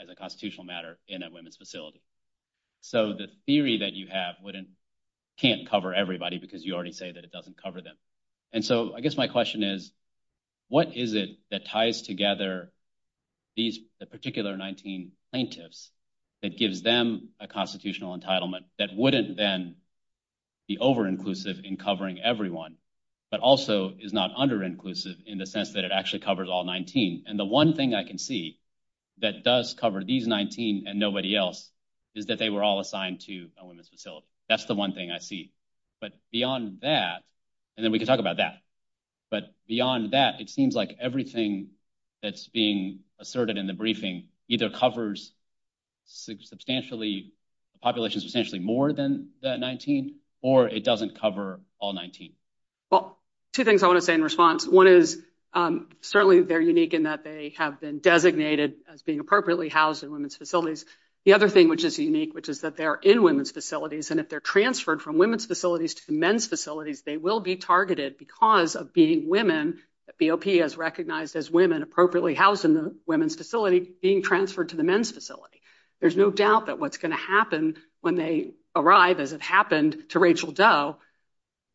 as a constitutional matter, in a women's facility. So the theory that you have can't cover everybody because you already said that it doesn't cover them. And so I guess my question is, what is it that ties together the particular 19 plaintiffs that gives them a constitutional entitlement that wouldn't then be over-inclusive in covering everyone, but also is not under-inclusive in the sense that it actually covers all 19? And the one thing I can see that does cover these 19 and nobody else is that they were all assigned to a women's facility. That's the one thing I see. But beyond that, and then we can talk about that, but beyond that, it seems like everything that's being asserted in the briefing either covers the population substantially more than the 19, or it doesn't cover all 19. Well, two things I want to say in response. One is certainly they're unique in that they have been designated as being appropriately housed in women's facilities. The other thing which is unique, which is that they are in women's facilities, and if they're transferred from women's facilities to men's facilities, they will be targeted because of being women. BOP is recognized as women, appropriately housed in the women's facility, being transferred to the men's facility. There's no doubt that what's going to happen when they arrive, as it happened to Rachel Doe,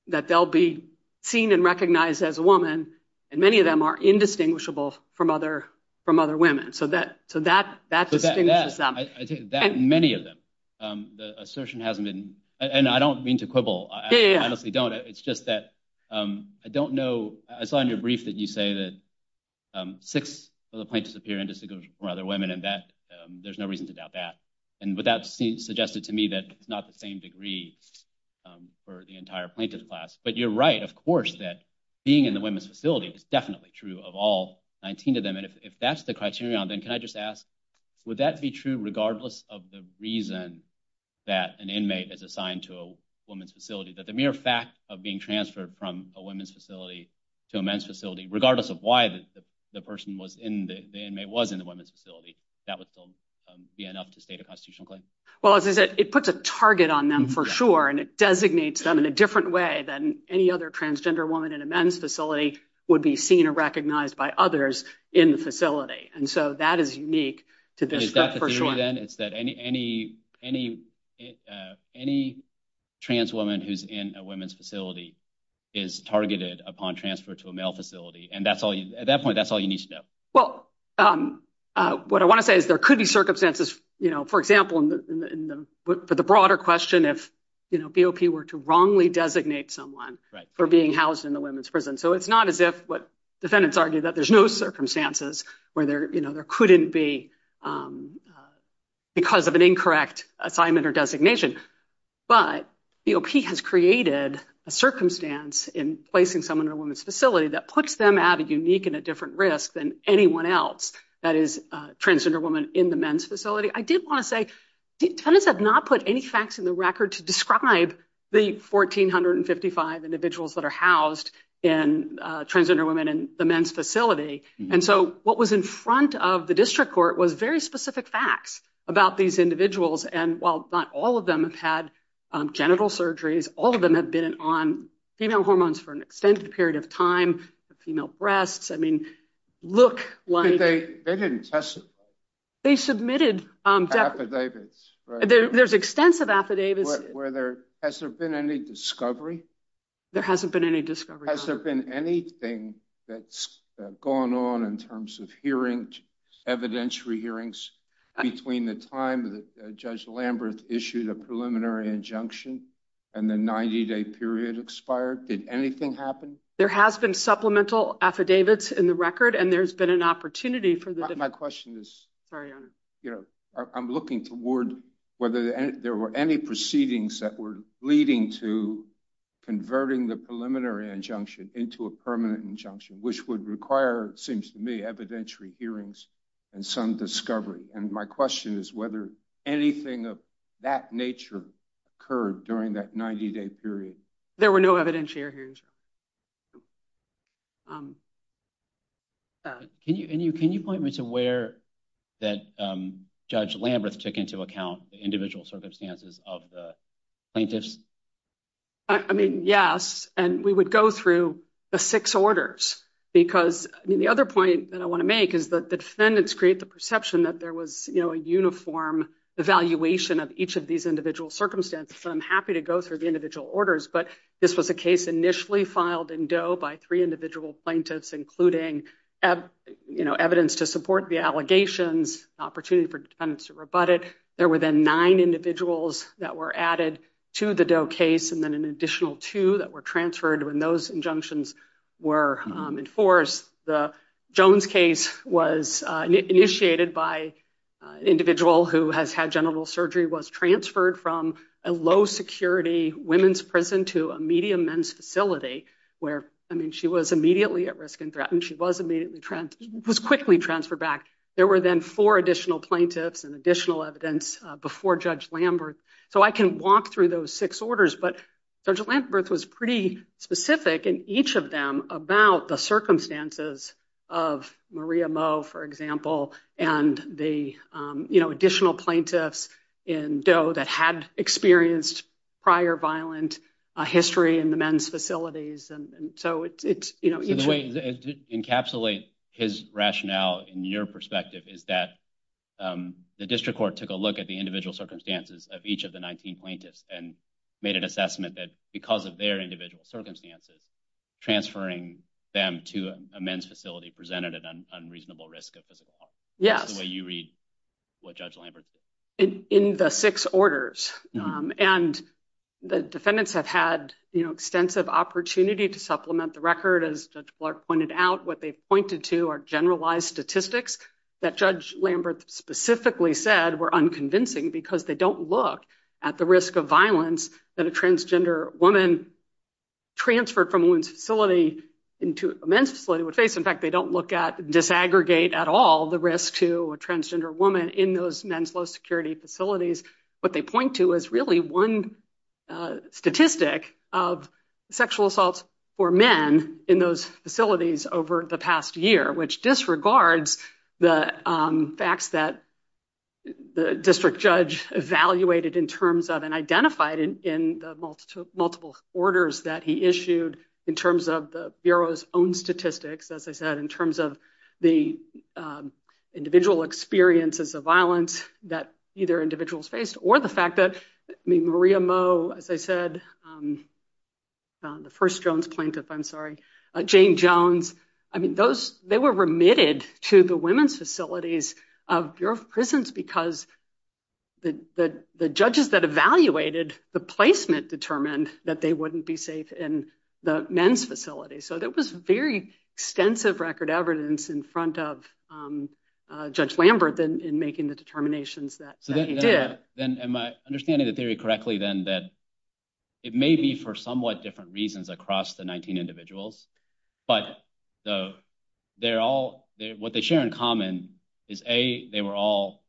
that they'll be seen and recognized as a woman, and many of them are indistinguishable from other women. So that's a significant step. I think that many of them. The assertion hasn't been – and I don't mean to quibble. Yeah, yeah. I honestly don't. It's just that I don't know – I saw in your brief that you say that six of the plaintiffs appear indistinguishable from other women, and there's no reason to doubt that. But that seems to suggest to me that it's not the same degree for the entire plaintiff's class. But you're right, of course, that being in the women's facility is definitely true of all 19 of them. If that's the criterion, then can I just ask, would that be true regardless of the reason that an inmate is assigned to a women's facility? That the mere fact of being transferred from a women's facility to a men's facility, regardless of why the inmate was in the women's facility, that would still be enough to state a constitutional claim? Well, as I said, it puts a target on them for sure, and it designates them in a different way than any other transgender woman in a men's facility would be seen or recognized by others in the facility. And so that is unique to this – Is that the theory, then, is that any trans woman who's in a women's facility is targeted upon transfer to a male facility? And at that point, that's all you need to know. Well, what I want to say is there could be circumstances, for example, for the broader question, if BOP were to wrongly designate someone for being housed in the women's prison. So it's not as if what defendants argue that there's no circumstances where there couldn't be because of an incorrect assignment or designation. But BOP has created a circumstance in placing someone in a women's facility that puts them at a unique and a different risk than anyone else that is a transgender woman in the men's facility. I did want to say defendants have not put any facts in the record to describe the 1,455 individuals that are housed in transgender women in the men's facility. And so what was in front of the district court was very specific facts about these individuals. And while not all of them have had genital surgeries, all of them have been on female hormones for an extended period of time. Female breasts, I mean, look like – They didn't testify. They submitted – Affidavits, right? There's extensive affidavits. Has there been any discovery? There hasn't been any discovery. Has there been anything that's gone on in terms of hearings, evidentiary hearings, between the time that Judge Lambert issued a preliminary injunction and the 90-day period expired? Did anything happen? There have been supplemental affidavits in the record, and there's been an opportunity for the – My question is, I'm looking toward whether there were any proceedings that were leading to converting the preliminary injunction into a permanent injunction, which would require, it seems to me, evidentiary hearings and some discovery. And my question is whether anything of that nature occurred during that 90-day period. There were no evidentiary hearings. Can you point me to where that Judge Lambert took into account the individual circumstances of the plaintiffs? I mean, yes, and we would go through the six orders, because the other point that I want to make is that the defendants create the perception that there was a uniform evaluation of each of these individual circumstances. And I'm happy to go through the individual orders, but this was a case initially filed in Doe by three individual plaintiffs, including evidence to support the allegations, opportunity for defendants to rebut it. There were then nine individuals that were added to the Doe case, and then an additional two that were transferred when those injunctions were enforced. The Jones case was initiated by an individual who has had genital surgery, was transferred from a low-security women's prison to a medium men's facility, where, I mean, she was immediately at risk and threatened. She was quickly transferred back. There were then four additional plaintiffs and additional evidence before Judge Lambert. So I can walk through those six orders, but Judge Lambert was pretty specific in each of them about the circumstances of Maria Moe, for example, and the additional plaintiffs in Doe that had experienced prior violent history in the men's facilities. In a way, to encapsulate his rationale in your perspective is that the district court took a look at the individual circumstances of each of the 19 plaintiffs and made an assessment that because of their individual circumstances, transferring them to a men's facility presented an unreasonable risk of physical harm. Yeah. That's the way you read what Judge Lambert said. In the six orders. And the defendants have had extensive opportunity to supplement the record. As Judge Clark pointed out, what they pointed to are generalized statistics that Judge Lambert specifically said were unconvincing because they don't look at the risk of violence that a transgender woman transferred from a facility into a men's facility would face. In fact, they don't look at, disaggregate at all, the risk to a transgender woman in those men's law security facilities. What they point to is really one statistic of sexual assault for men in those facilities over the past year, which disregards the facts that the district judge evaluated in terms of and identified in the multiple orders that he issued in terms of the Bureau's own statistics. As I said, in terms of the individual experiences of violence that either individuals face or the fact that, I mean, Maria Mo, as I said, the first Jones plaintiff, I'm sorry, Jane Jones. I mean, those, they were remitted to the women's facilities of Bureau of Prisons because the judges that evaluated the placement determined that they wouldn't be safe in the men's facility. So there was very extensive record evidence in front of Judge Lambert in making the determinations that he did. Am I understanding the theory correctly then that it may be for somewhat different reasons across the 19 individuals, but what they share in common is A, they were all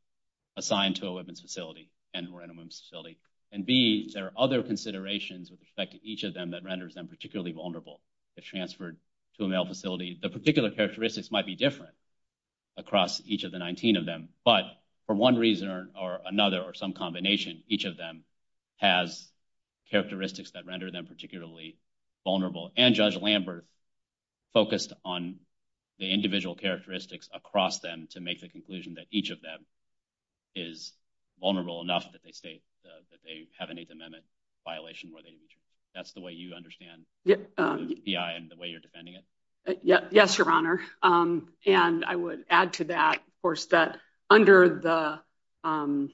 assigned to a women's facility and were in a women's facility. And B, there are other considerations with respect to each of them that renders them particularly vulnerable if transferred to a male facility. The particular characteristics might be different across each of the 19 of them, but for one reason or another or some combination, each of them has characteristics that render them particularly vulnerable. And Judge Lambert focused on the individual characteristics across them to make the conclusion that each of them is vulnerable enough that they state that they have an Eighth Amendment violation. That's the way you understand the way you're defending it. Yes, Your Honor. And I would add to that, of course, that under the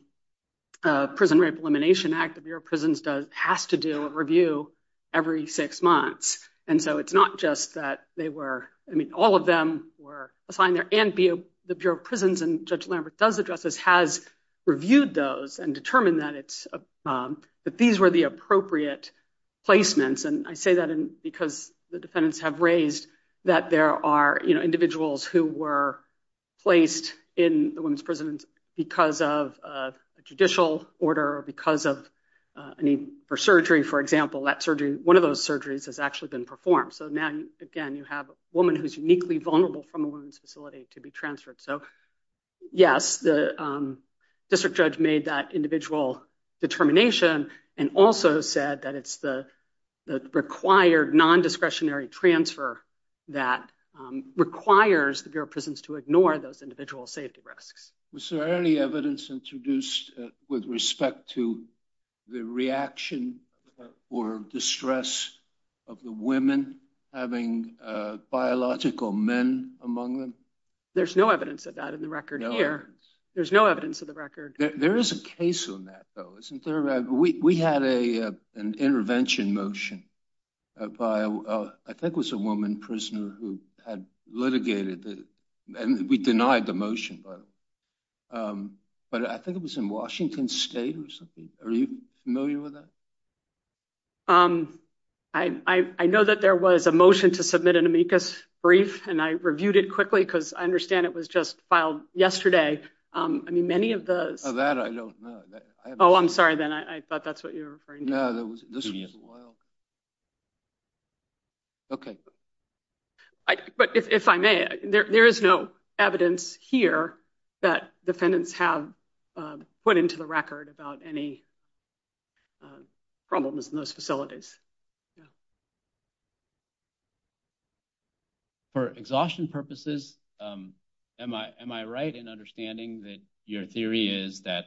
Prison Rape Elimination Act, the Bureau of Prisons has to do a review every six months. And so it's not just that they were, I mean, all of them were assigned there and the Bureau of Prisons and Judge Lambert does address this, has reviewed those and determined that these were the appropriate placements. And I say that because the defendants have raised that there are individuals who were placed in a women's prison because of a judicial order or because of a need for surgery. For example, that surgery, one of those surgeries has actually been performed. So then, again, you have a woman who's uniquely vulnerable from a women's facility to be transferred. So, yes, the district judge made that individual determination and also said that it's the required non-discretionary transfer that requires the Bureau of Prisons to ignore those individual safety risks. Was there any evidence introduced with respect to the reaction or distress of the women having biological men among them? There's no evidence of that in the record here. There's no evidence of the record. There is a case on that, though, isn't there? We had an intervention motion by, I think it was a woman prisoner who had litigated, and we denied the motion, but I think it was in Washington State or something. Are you familiar with that? I know that there was a motion to submit an amicus brief, and I reviewed it quickly because I understand it was just filed yesterday. I mean, many of the – Oh, that I don't know. Oh, I'm sorry, then. I thought that's what you were referring to. No, this was – Okay. But if I may, there is no evidence here that defendants have put into the record about any problems in those facilities. For exhaustion purposes, am I right in understanding that your theory is that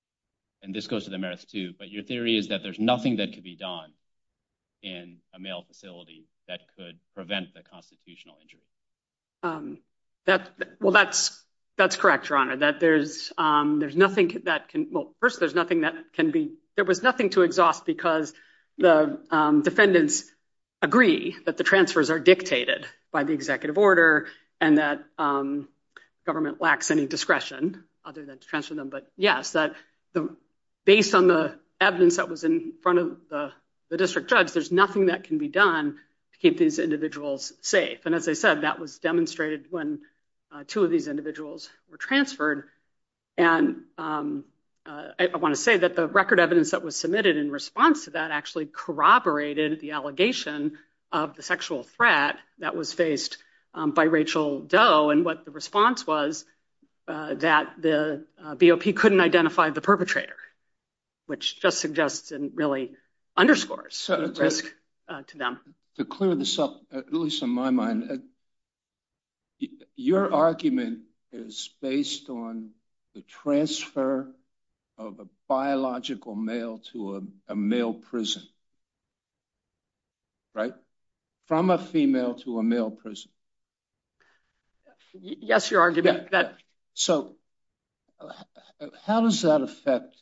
– and this goes to the merits, too – but your theory is that there's nothing that can be done in a male facility that could prevent a constitutional injury? Well, that's correct, Your Honor. First, there's nothing that can be – there was nothing to exhaust because the defendants agree that the transfers are dictated by the executive order and that government lacks any discretion other than to transfer them. But, yes, based on the evidence that was in front of the district judge, there's nothing that can be done to keep these individuals safe. And as I said, that was demonstrated when two of these individuals were transferred. And I want to say that the record evidence that was submitted in response to that actually corroborated the allegation of the sexual threat that was faced by Rachel Doe. And what the response was that the BOP couldn't identify the perpetrator, which just suggests and really underscores the risk to them. To clear this up, at least in my mind, your argument is based on the transfer of a biological male to a male prison, right? From a female to a male prison. Yes, Your Honor. So, how does that affect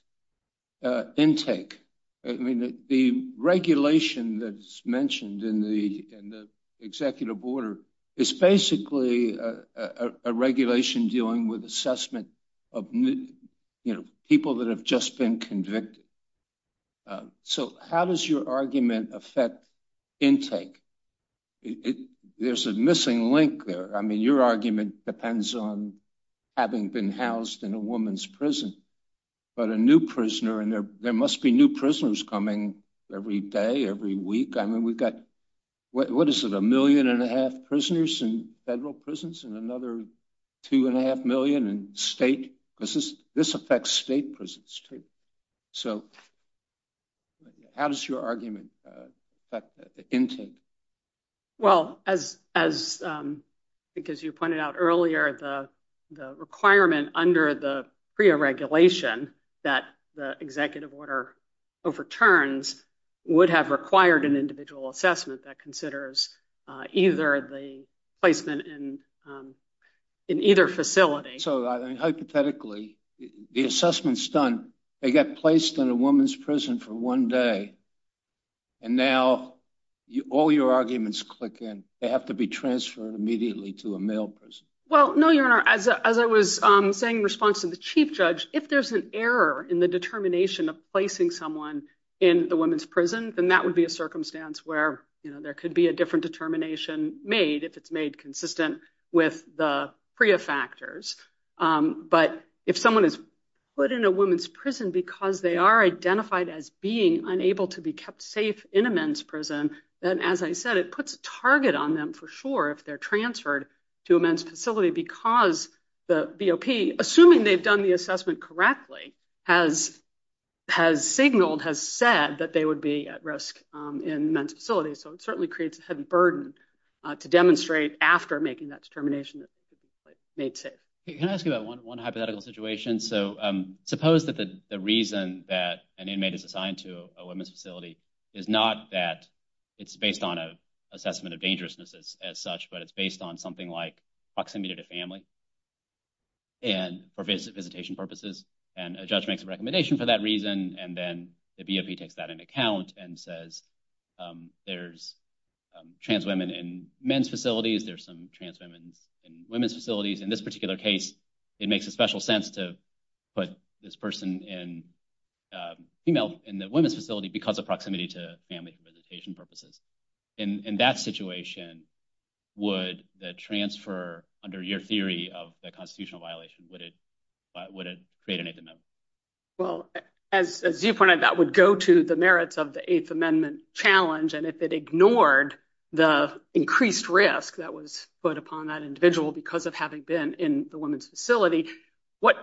intake? I mean, the regulation that's mentioned in the executive order is basically a regulation dealing with assessment of people that have just been convicted. So, how does your argument affect intake? There's a missing link there. I mean, your argument depends on having been housed in a woman's prison, but a new prisoner, and there must be new prisoners coming every day, every week. I mean, we've got, what is it, a million and a half prisoners in federal prisons and another two and a half million in state? This affects state prisons too. So, how does your argument affect intake? Well, as you pointed out earlier, the requirement under the PREA regulation that the executive order overturns would have required an individual assessment that considers either the placement in either facility. So, hypothetically, the assessment's done. They get placed in a woman's prison for one day, and now all your arguments click in. They have to be transferred immediately to a male prison. Well, no, Your Honor. As I was saying in response to the chief judge, if there's an error in the determination of placing someone in a woman's prison, then that would be a circumstance where there could be a different determination made if it's made consistent with the PREA factors. But if someone is put in a woman's prison because they are identified as being unable to be kept safe in a men's prison, then, as I said, it puts a target on them for sure if they're transferred to a men's facility because the BOP, assuming they've done the assessment correctly, has signaled, has said that they would be at risk in a men's facility. So it certainly creates a certain burden to demonstrate after making that determination that it's made safe. Can I ask you about one hypothetical situation? So suppose that the reason that an inmate is assigned to a women's facility is not that it's based on an assessment of dangerousness as such, but it's based on something like proximity to family for visitation purposes, and a judge makes a recommendation for that reason, and then the BOP takes that into account and says there's trans women in men's facilities, there's some trans women in women's facilities. In this particular case, it makes a special sense to put this person in the women's facility because of proximity to family for visitation purposes. In that situation, would the transfer under your theory of the constitutional violation, would it create an eighth amendment? Well, as you pointed out, that would go to the merits of the eighth amendment challenge, and if it ignored the increased risk that was put upon that individual because of having been in the women's facility, what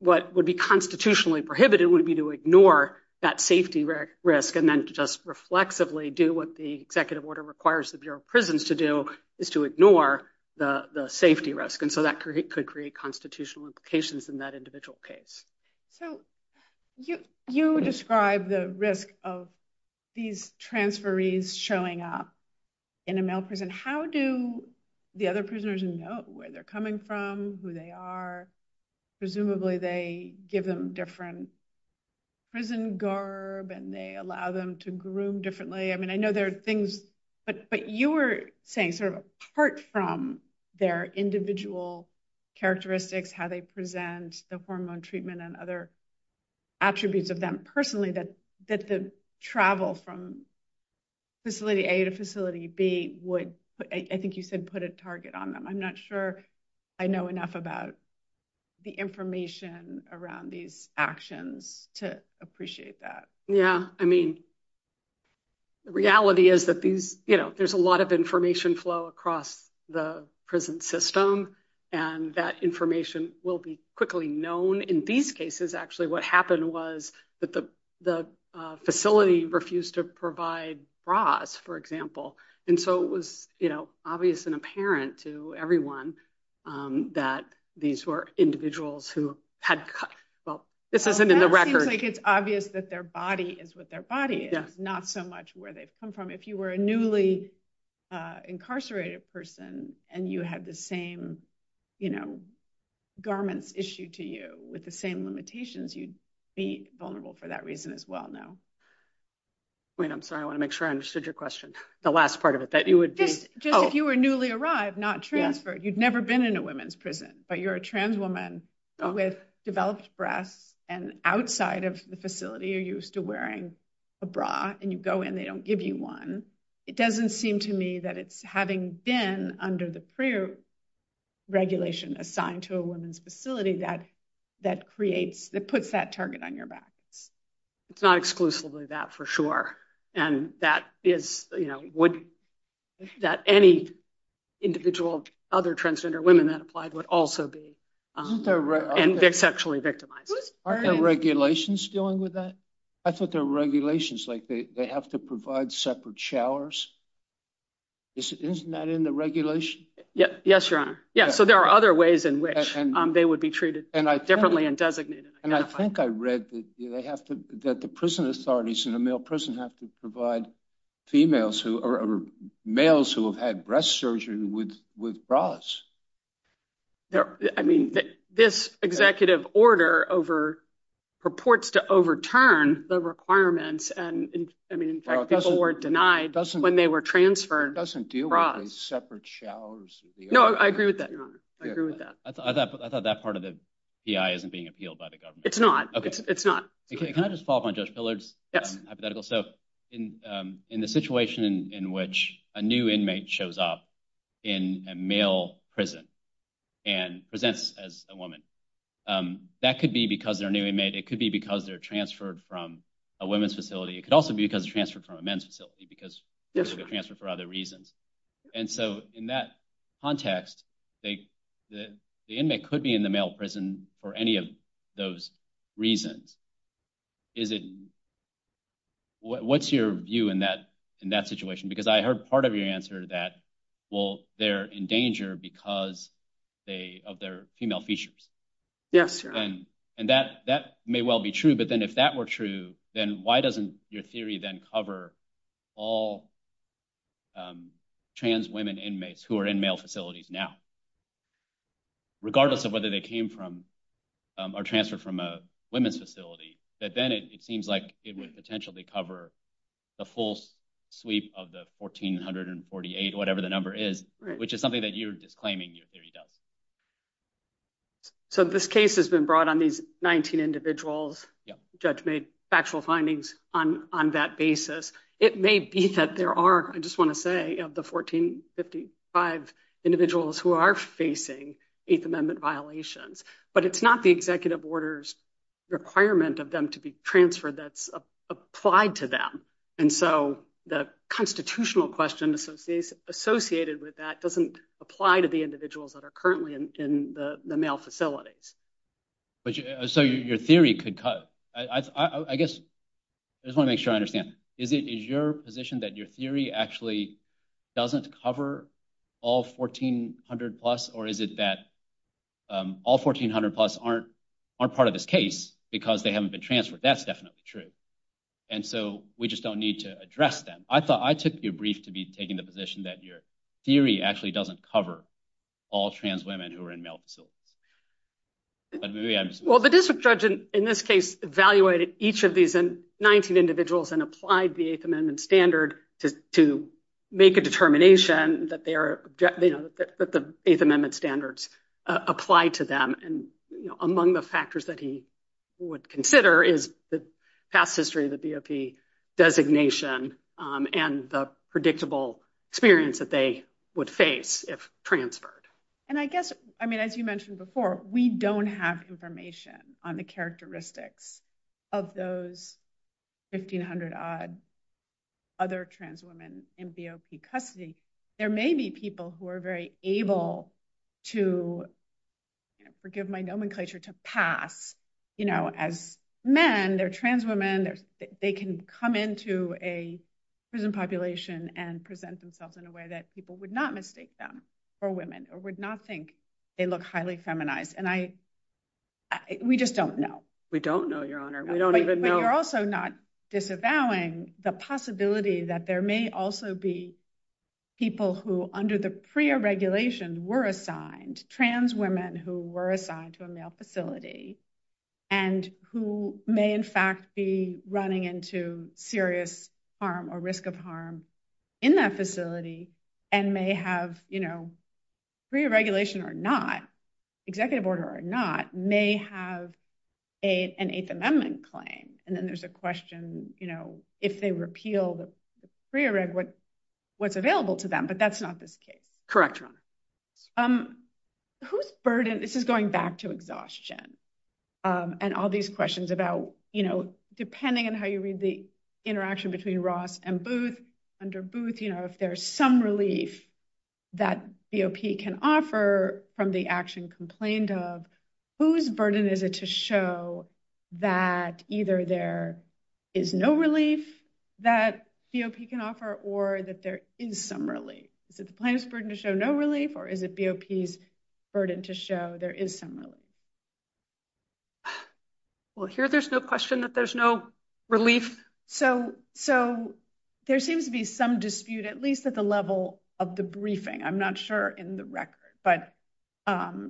would be constitutionally prohibited would be to ignore that safety risk and then just reflexively do what the executive order requires the Bureau of Prisons to do is to ignore the safety risk. And so that could create constitutional implications in that individual case. So you described the risk of these transferees showing up in a male prison. How do the other prisoners know where they're coming from, who they are? Presumably they give them different prison garb and they allow them to groom differently. I mean, I know there are things, but you were saying sort of apart from their individual characteristics, how they present the hormone treatment and other attributes of them personally, that the travel from facility A to facility B would, I think you said, put a target on them. I'm not sure I know enough about the information around these actions to appreciate that. Yeah, I mean, the reality is that there's a lot of information flow across the prison system, and that information will be quickly known. In these cases, actually, what happened was that the facility refused to provide broads, for example. And so it was obvious and apparent to everyone that these were individuals who had, well, this isn't in the record. I think it's obvious that their body is what their body is, not so much where they've come from. If you were a newly incarcerated person and you had the same garments issued to you with the same limitations, you'd be vulnerable for that reason as well now. Wait, I'm sorry, I want to make sure I understood your question. The last part of it, that you would be... If you were newly arrived, not transferred, you'd never been in a women's prison, but you're a trans woman with developed breasts and outside of the facility, you're used to wearing a bra, and you go in, they don't give you one. It doesn't seem to me that it's having been under the PREA regulation assigned to a women's facility that puts that target on your back. It's not exclusively that, for sure. And that is, you know, would... That any individual of other transgender women that applied would also be sexually victimized. Aren't there regulations dealing with that? I thought there were regulations, like they have to provide separate showers. Isn't that in the regulation? Yes, Your Honor. Yeah, so there are other ways in which they would be treated differently and designated. And I think I read that they have to, that the prison authorities in a male prison have to provide females who, or males who have had breast surgery with bras. I mean, this executive order over, purports to overturn the requirements, and I mean, in fact, people were denied when they were transferred bras. It doesn't deal with separate showers. No, I agree with that, Your Honor. I agree with that. I thought that part of the PI isn't being appealed by the government. It's not. It's not. Can I just follow up on Judge Pillard's hypothetical? So, in the situation in which a new inmate shows up in a male prison and presents as a woman, that could be because they're a new inmate. It could be because they're transferred from a women's facility. It could also be because they're transferred from a men's facility because they're transferred for other reasons. And so, in that context, the inmate could be in the male prison for any of those reasons. Is it, what's your view in that situation? Because I heard part of your answer that, well, they're in danger because of their female features. Yes, Your Honor. And that may well be true, but then if that were true, then why doesn't your theory then cover all trans women inmates who are in male facilities now, regardless of whether they came from or transferred from a women's facility? But then it seems like it would potentially cover the full sweep of the 1,448, whatever the number is, which is something that you're disclaiming your theory does. So, this case has been brought on these 19 individuals. The judge made factual findings on that basis. It may be that there are, I just want to say, of the 1,455 individuals who are facing Eighth Amendment violations, but it's not the executive order's requirement of them to be transferred that's applied to them. And so, the constitutional question associated with that doesn't apply to the individuals that are currently in the male facilities. So, your theory could, I guess, I just want to make sure I understand. Is it your position that your theory actually doesn't cover all 1,400 plus, or is it that all 1,400 plus aren't part of this case because they haven't been transferred? That's definitely true. And so, we just don't need to address them. I thought I took your brief to be taking the position that your theory actually doesn't cover all trans women who are in male facilities. Well, the district judge, in this case, evaluated each of these 19 individuals and applied the Eighth Amendment standard to make a determination that the Eighth Amendment standards apply to them. Among the factors that he would consider is the past history of the BOP designation and the predictable experience that they would face if transferred. And I guess, as you mentioned before, we don't have information on the characteristics of those 1,500-odd other trans women in BOP custody. There may be people who are very able to, forgive my nomenclature, to pass as men. They're trans women. They can come into a prison population and present themselves in a way that people would not mistake them for women or would not think they look highly feminized. And we just don't know. We don't know, Your Honor. We don't even know. We are also not disavowing the possibility that there may also be people who, under the PREA regulation, were assigned, trans women who were assigned to a male facility, and who may, in fact, be running into serious harm or risk of harm in that facility and may have, you know, PREA regulation or not, executive order or not, may have an Eighth Amendment claim. And then there's a question, you know, if they repeal the PREA reg, what's available to them? But that's not this case. Correct, Your Honor. Whose burden – this is going back to exhaustion and all these questions about, you know, depending on how you read the interaction between Ross and Booth, you know, if there's some relief that BOP can offer from the action complained of, whose burden is it to show that either there is no relief that BOP can offer or that there is some relief? Is it the plaintiff's burden to show no relief or is it BOP's burden to show there is some relief? Well, here there's no question that there's no relief. So there seems to be some dispute, at least at the level of the briefing. I'm not sure in the record. But,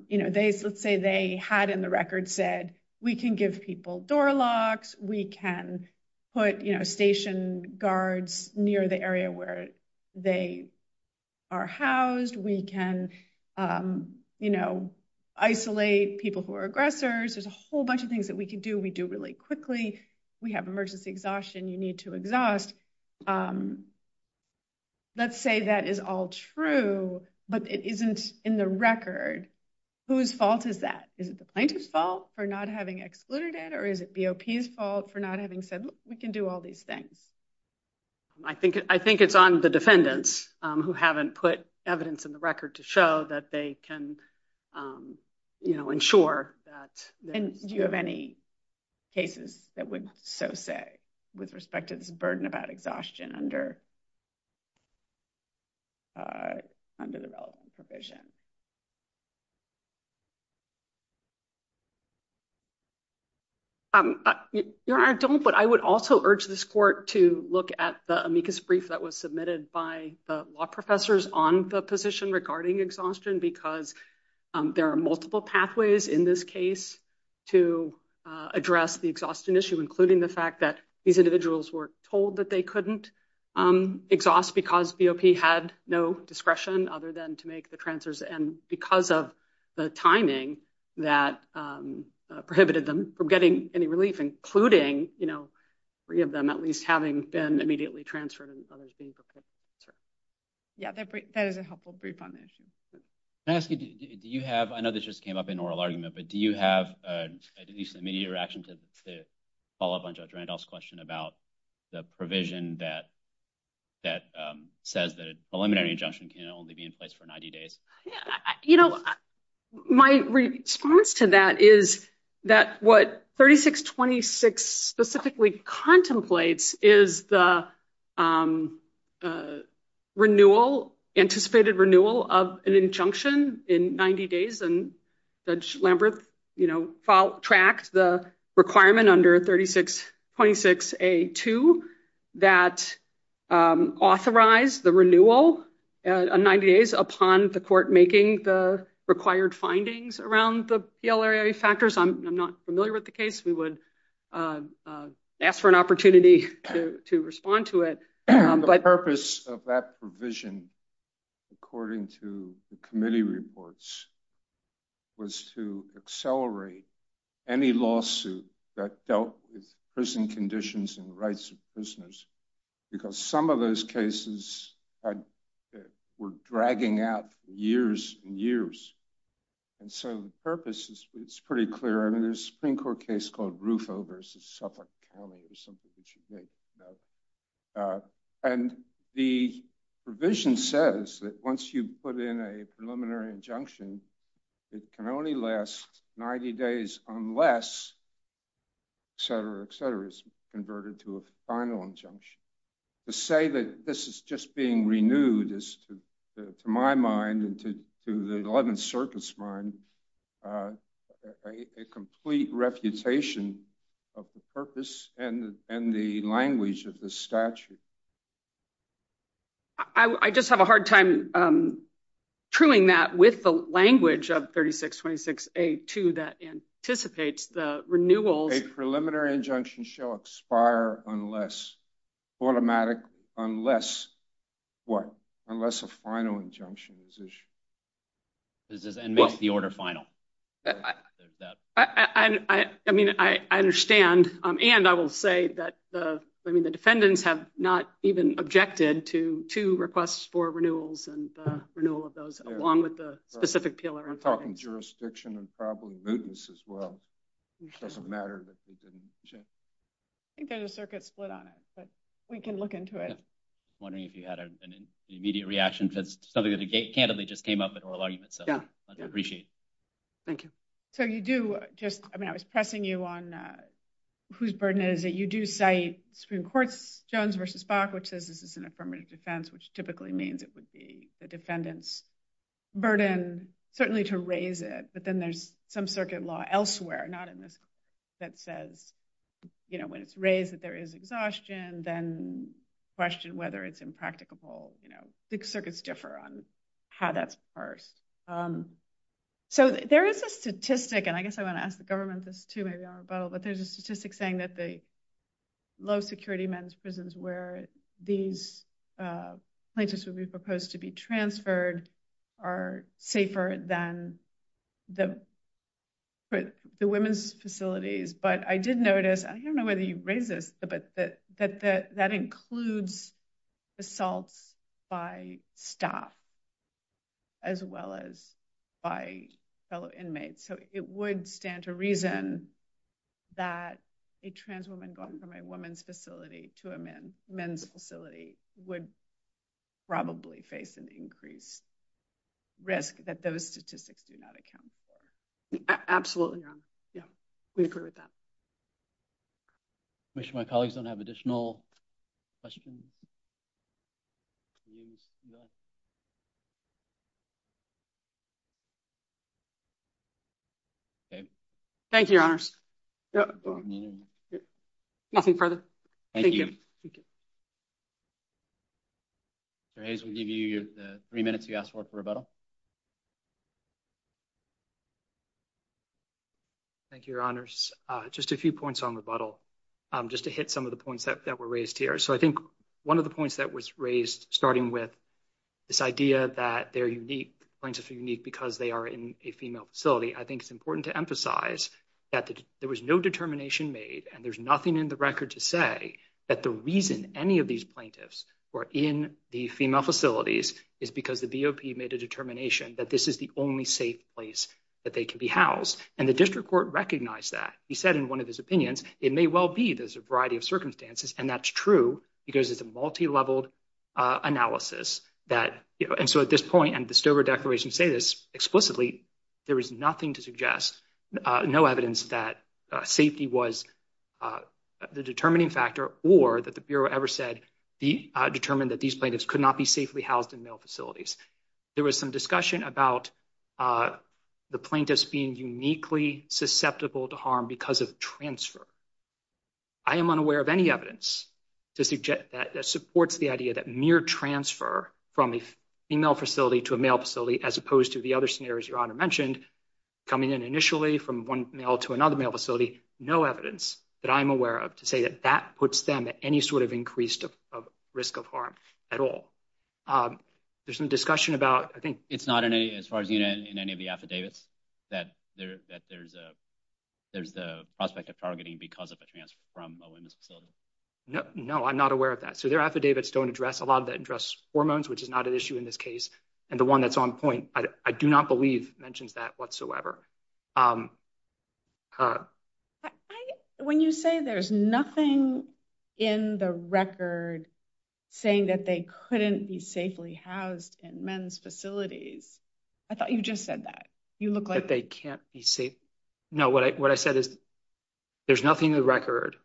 you know, let's say they had in the record said, we can give people door locks. We can put, you know, station guards near the area where they are housed. We can, you know, isolate people who are aggressors. There's a whole bunch of things that we can do. We do really quickly. We have emergency exhaustion. You need to exhaust. Let's say that is all true, but it isn't in the record. Whose fault is that? Is it the plaintiff's fault for not having excluded it or is it BOP's fault for not having said we can do all these things? I think it's on the defendants who haven't put evidence in the record to show that they can, you know, ensure that. And do you have any cases that would say with respect to the burden of that exhaustion under the development provision? Your Honor, I don't, but I would also urge this court to look at the amicus brief that was submitted by the law professors on the position regarding exhaustion, because there are multiple pathways in this case to address the exhaustion issue, including the fact that these individuals were told that they couldn't exhaust because BOP had no discretion other than to make the transfers, and because of the timing that prohibited them from getting any relief, including, you know, three of them at least having been immediately transferred. Yeah, that is a helpful brief on this. Can I ask you, do you have, I know this just came up in oral argument, but do you have at least an immediate reaction to follow up on Judge Randolph's question about the provision that says that a preliminary injunction can only be in place for 90 days? You know, my response to that is that what 3626 specifically contemplates is the renewal, anticipated renewal of an injunction in 90 days, and Judge Lambert, you know, tracks the requirement under 3626A2 that authorized the renewal in 90 days upon the court making the required findings around the PLRA factors. I'm not familiar with the case. We would ask for an opportunity to respond to it. The purpose of that provision, according to the committee reports, was to accelerate any lawsuit that dealt with prison conditions and rights of prisoners, because some of those cases were dragging out for years and years. And so the purpose is pretty clear. There's a Supreme Court case called Rufo v. Suffolk County, or something that you may know. And the provision says that once you put in a preliminary injunction, it can only last 90 days unless, et cetera, et cetera, it's converted to a final injunction. To say that this is just being renewed is, to my mind and to the 11th Circuit's mind, a complete refutation of the purpose and the language of the statute. I just have a hard time truing that with the language of 3626A2 that anticipates the renewal. A preliminary injunction shall expire unless automatic, unless what? Unless a final injunction is issued. Does it then make the order final? I mean, I understand. And I will say that the defendants have not even objected to two requests for renewals and renewal of those, along with the specific pillar. We're talking jurisdiction and probably mootness as well. It doesn't matter that they didn't object. I think there's a circuit split on it, but we can look into it. I was wondering if you had an immediate reaction to the subject of the case. Candidate just came up with her argument, so I'd appreciate it. Thank you. So you do just, I mean, I was pressing you on whose burden it is that you do cite Supreme Court's Jones v. Suffolk, which says this is an affirmative defense, which typically means it would be the defendant's burden. And certainly to raise it, but then there's some circuit law elsewhere, not in this case, that says, you know, when it's raised that there is exhaustion, then question whether it's impracticable. You know, circuits differ on how that's dispersed. So there is a statistic, and I guess I want to ask the government this too, but there's a statistic saying that the low security men's prisons where these plaintiffs would be proposed to be transferred are safer than the women's facilities. But I did notice, I don't know whether you raised this, but that includes assault by staff as well as by fellow inmates. So it would stand to reason that a trans woman going from a women's facility to a men's facility would probably face an increased risk that those statistics do not account for. Absolutely. Yeah, we agree with that. I wish my colleagues don't have additional questions. Thank you, Your Honors. Nothing further. Thank you. Mr. Hayes, we give you the three minutes you asked for for rebuttal. Thank you, Your Honors. Just a few points on rebuttal, just to hit some of the points that were raised here. So I think one of the points that was raised, starting with this idea that they're unique, the plaintiffs are unique because they are in a female facility, I think it's important to emphasize that there was no determination made, and there's nothing in the record to say that the reason any of these plaintiffs were in the female facilities is because the BOP made a determination that this is the only safe place that they can be housed. And the district court recognized that. He said in one of his opinions, it may well be there's a variety of circumstances, and that's true because it's a multileveled analysis. And so at this point, and the Stover Declaration say this explicitly, there is nothing to suggest, no evidence that safety was the determining factor or that the Bureau ever said determined that these plaintiffs could not be safely housed in male facilities. There was some discussion about the plaintiffs being uniquely susceptible to harm because of transfer. I am unaware of any evidence that supports the idea that mere transfer from a female facility to a male facility, as opposed to the other scenarios your honor mentioned, coming in initially from one male to another male facility, no evidence that I'm aware of to say that that puts them at any sort of increased risk of harm at all. There's some discussion about, I think... It's not in any, as far as you know, in any of the affidavits that there's a prospect of targeting because of a transfer from a women's facility. No, I'm not aware of that. So their affidavits don't address a lot of that address hormones, which is not an issue in this case. And the one that's on point, I do not believe mentions that whatsoever. When you say there's nothing in the record saying that they couldn't be safely housed in men's facilities, I thought you just said that. That they can't be safe. No, what I said is there's nothing in the record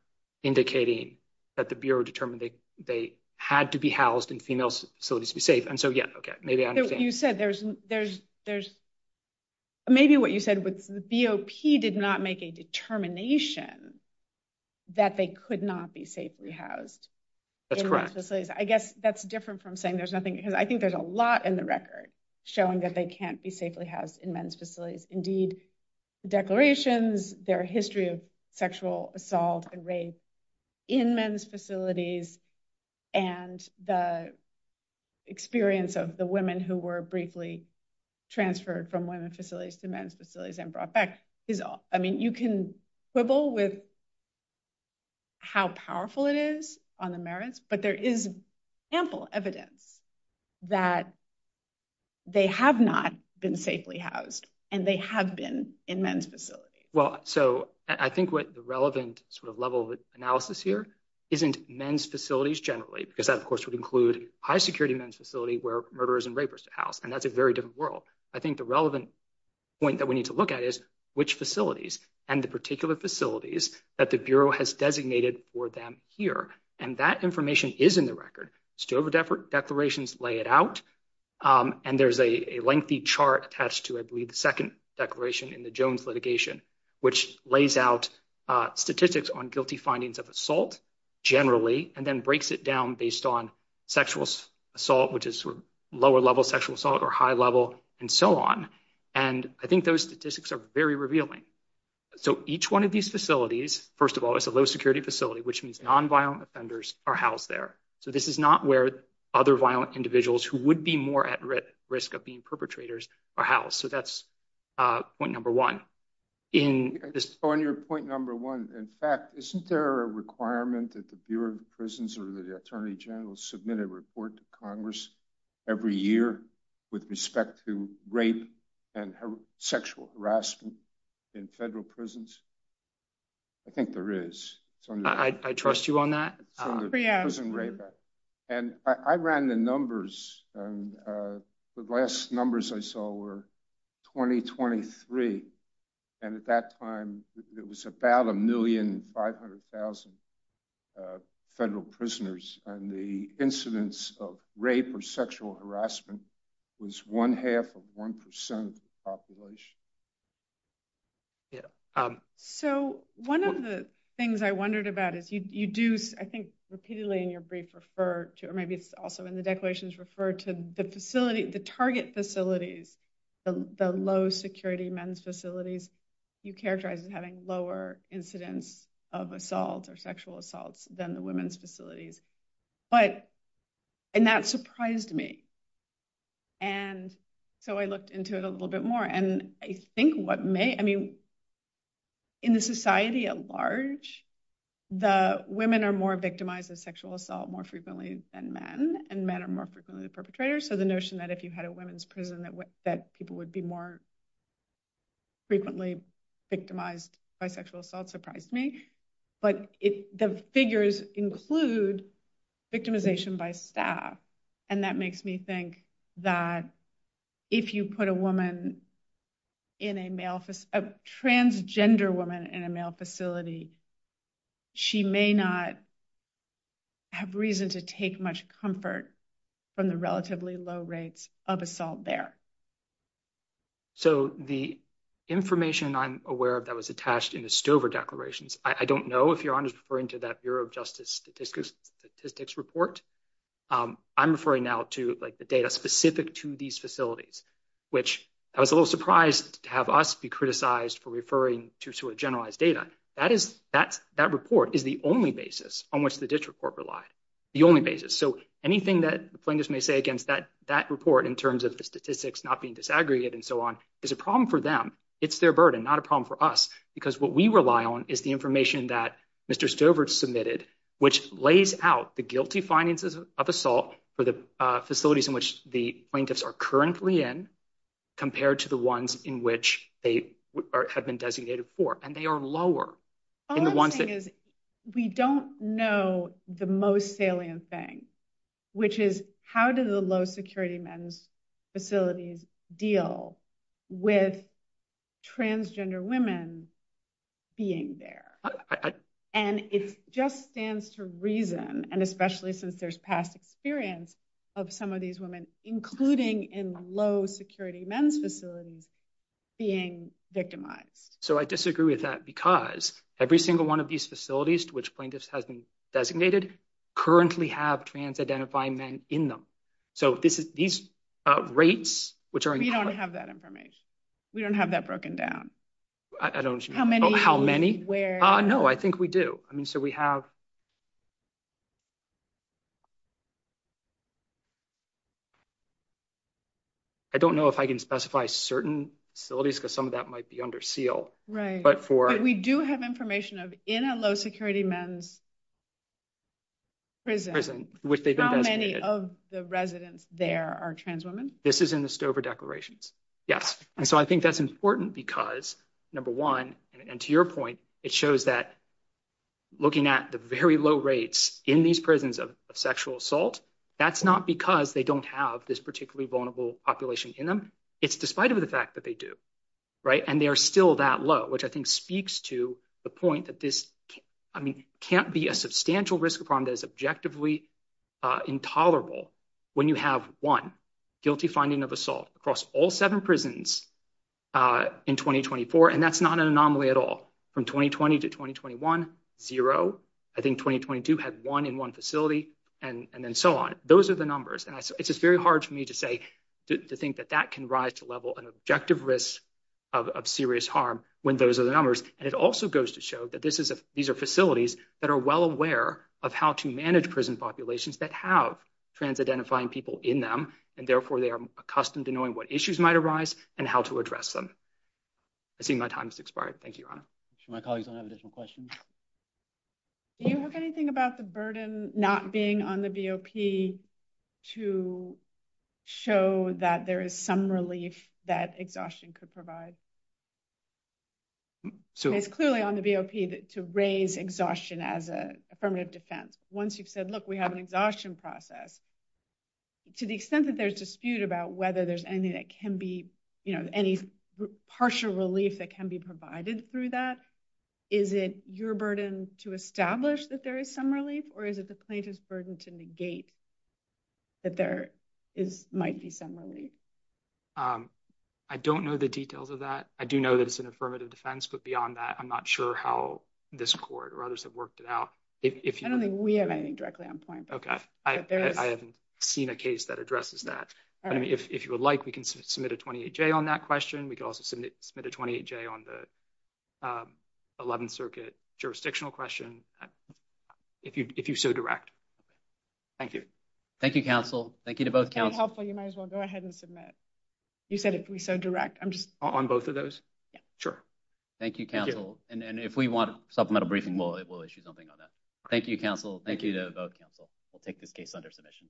indicating that the Bureau determined that they had to be housed in female facilities to be safe. And so, yeah, okay, maybe I understand. Maybe what you said was the BOP did not make a determination that they could not be safely housed. That's correct. I guess that's different from saying there's nothing, because I think there's a lot in the record showing that they can't be safely housed in men's facilities. So, I mean, there's indeed declarations, there are history of sexual assault and rape in men's facilities, and the experience of the women who were briefly transferred from women's facilities to men's facilities and brought back is all. I mean, you can quibble with how powerful it is on the merits, but there is ample evidence that they have not been safely housed and they have been in men's facilities. Well, so I think what the relevant sort of level of analysis here isn't men's facilities generally, because that, of course, would include high security men's facility where murderers and rapists are housed, and that's a very different world. I think the relevant point that we need to look at is which facilities and the particular facilities that the Bureau has designated for them here, and that information is in the record. Still, the declarations lay it out, and there's a lengthy chart attached to it, the second declaration in the Jones litigation, which lays out statistics on guilty findings of assault generally, and then breaks it down based on sexual assault, which is lower level sexual assault or high level, and so on. And I think those statistics are very revealing. So each one of these facilities, first of all, is a low security facility, which means nonviolent offenders are housed there. So this is not where other violent individuals who would be more at risk of being perpetrators are housed. So that's point number one. On your point number one, in fact, isn't there a requirement that the Bureau of Prisons or the Attorney General submit a report to Congress every year with respect to rape and sexual harassment in federal prisons? I think there is. I trust you on that. And I ran the numbers, and the last numbers I saw were 2023, and at that time, it was about 1,500,000 federal prisoners, and the incidence of rape or sexual harassment was one half of 1% of the population. So one of the things I wondered about is you do, I think, repeatedly in your brief refer to, or maybe it's also in the declarations, refer to the facility, the target facilities, the low security men's facilities, you characterize as having lower incidence of assault or sexual assault than the women's facilities. And that surprised me. And so I looked into it a little bit more, and I think what may, I mean, in a society at large, the women are more victimized of sexual assault more frequently than men, and men are more frequently the perpetrators. So the notion that if you had a women's prison that people would be more frequently victimized by sexual assault surprised me. But the figures include victimization by staff, and that makes me think that if you put a woman in a male, a transgender woman in a male facility, she may not have reason to take much comfort from the relatively low rates of assault there. So the information I'm aware of that was attached in the Stover declarations, I don't know if you're referring to that Bureau of Justice statistics report. I'm referring now to the data specific to these facilities, which I was a little surprised to have us be criticized for referring to a generalized data. That report is the only basis on which the district court relied, the only basis. So anything that plaintiffs may say against that report in terms of the statistics not being disaggregated and so on is a problem for them. It's their burden, not a problem for us, because what we rely on is the information that Mr. Stover submitted, which lays out the guilty findings of assault for the facilities in which the plaintiffs are currently in compared to the ones in which they have been designated for. And they are lower. The only thing is, we don't know the most salient thing, which is how do the low security men's facilities deal with transgender women being there? And it just stands to reason, and especially since there's past experience of some of these women, including in low security men's facilities, being victimized. So I disagree with that, because every single one of these facilities to which plaintiffs have been designated currently have trans-identifying men in them. So these rates, which are- We don't have that information. We don't have that broken down. I don't- How many? How many? Where? No, I think we do. I mean, so we have- I don't know if I can specify certain facilities, because some of that might be under seal. Right. But for- But we do have information of, in a low security men's prison, how many of the residents there are trans women. This is in the Stover declarations. Yes. And so I think that's important because, number one, and to your point, it shows that looking at the very low rates in these prisons of sexual assault, that's not because they don't have this particularly vulnerable population in them. It's despite of the fact that they do. Right? And then you have, one, guilty finding of assault across all seven prisons in 2024, and that's not an anomaly at all. From 2020 to 2021, zero. I think 2022 had one in one facility, and then so on. Those are the numbers. And it's just very hard for me to say, to think that that can rise to a level of objective risk of serious harm when those are the numbers. And it also goes to show that these are facilities that are well aware of how to manage prison populations that have trans identifying people in them, and therefore they are accustomed to knowing what issues might arise and how to address them. I see my time has expired. Thank you, Your Honor. My colleagues don't have additional questions. Do you have anything about the burden not being on the BOP to show that there is some relief that exhaustion could provide? It's clearly on the BOP to raise exhaustion as an affirmative defense. Once you've said, look, we have an exhaustion process, to the extent that there's dispute about whether there's any partial relief that can be provided through that, is it your burden to establish that there is some relief, or is it the plaintiff's burden to negate that there might be some relief? I don't know the details of that. I do know that it's an affirmative defense, but beyond that, I'm not sure how this court or others have worked it out. I don't think we have anything directly on point. Okay. I haven't seen a case that addresses that. All right. If you would like, we can submit a 28-J on that question. We can also submit a 28-J on the 11th Circuit jurisdictional question, if you so direct. Thank you. Thank you, counsel. Thank you to both counsels. If that's helpful, you might as well go ahead and submit it. You said if we so direct. On both of those? Yeah. Sure. Thank you, counsel. And if we want a supplemental briefing, we'll issue something on that. Thank you, counsel. Thank you to both counsel. We'll take this case under submission.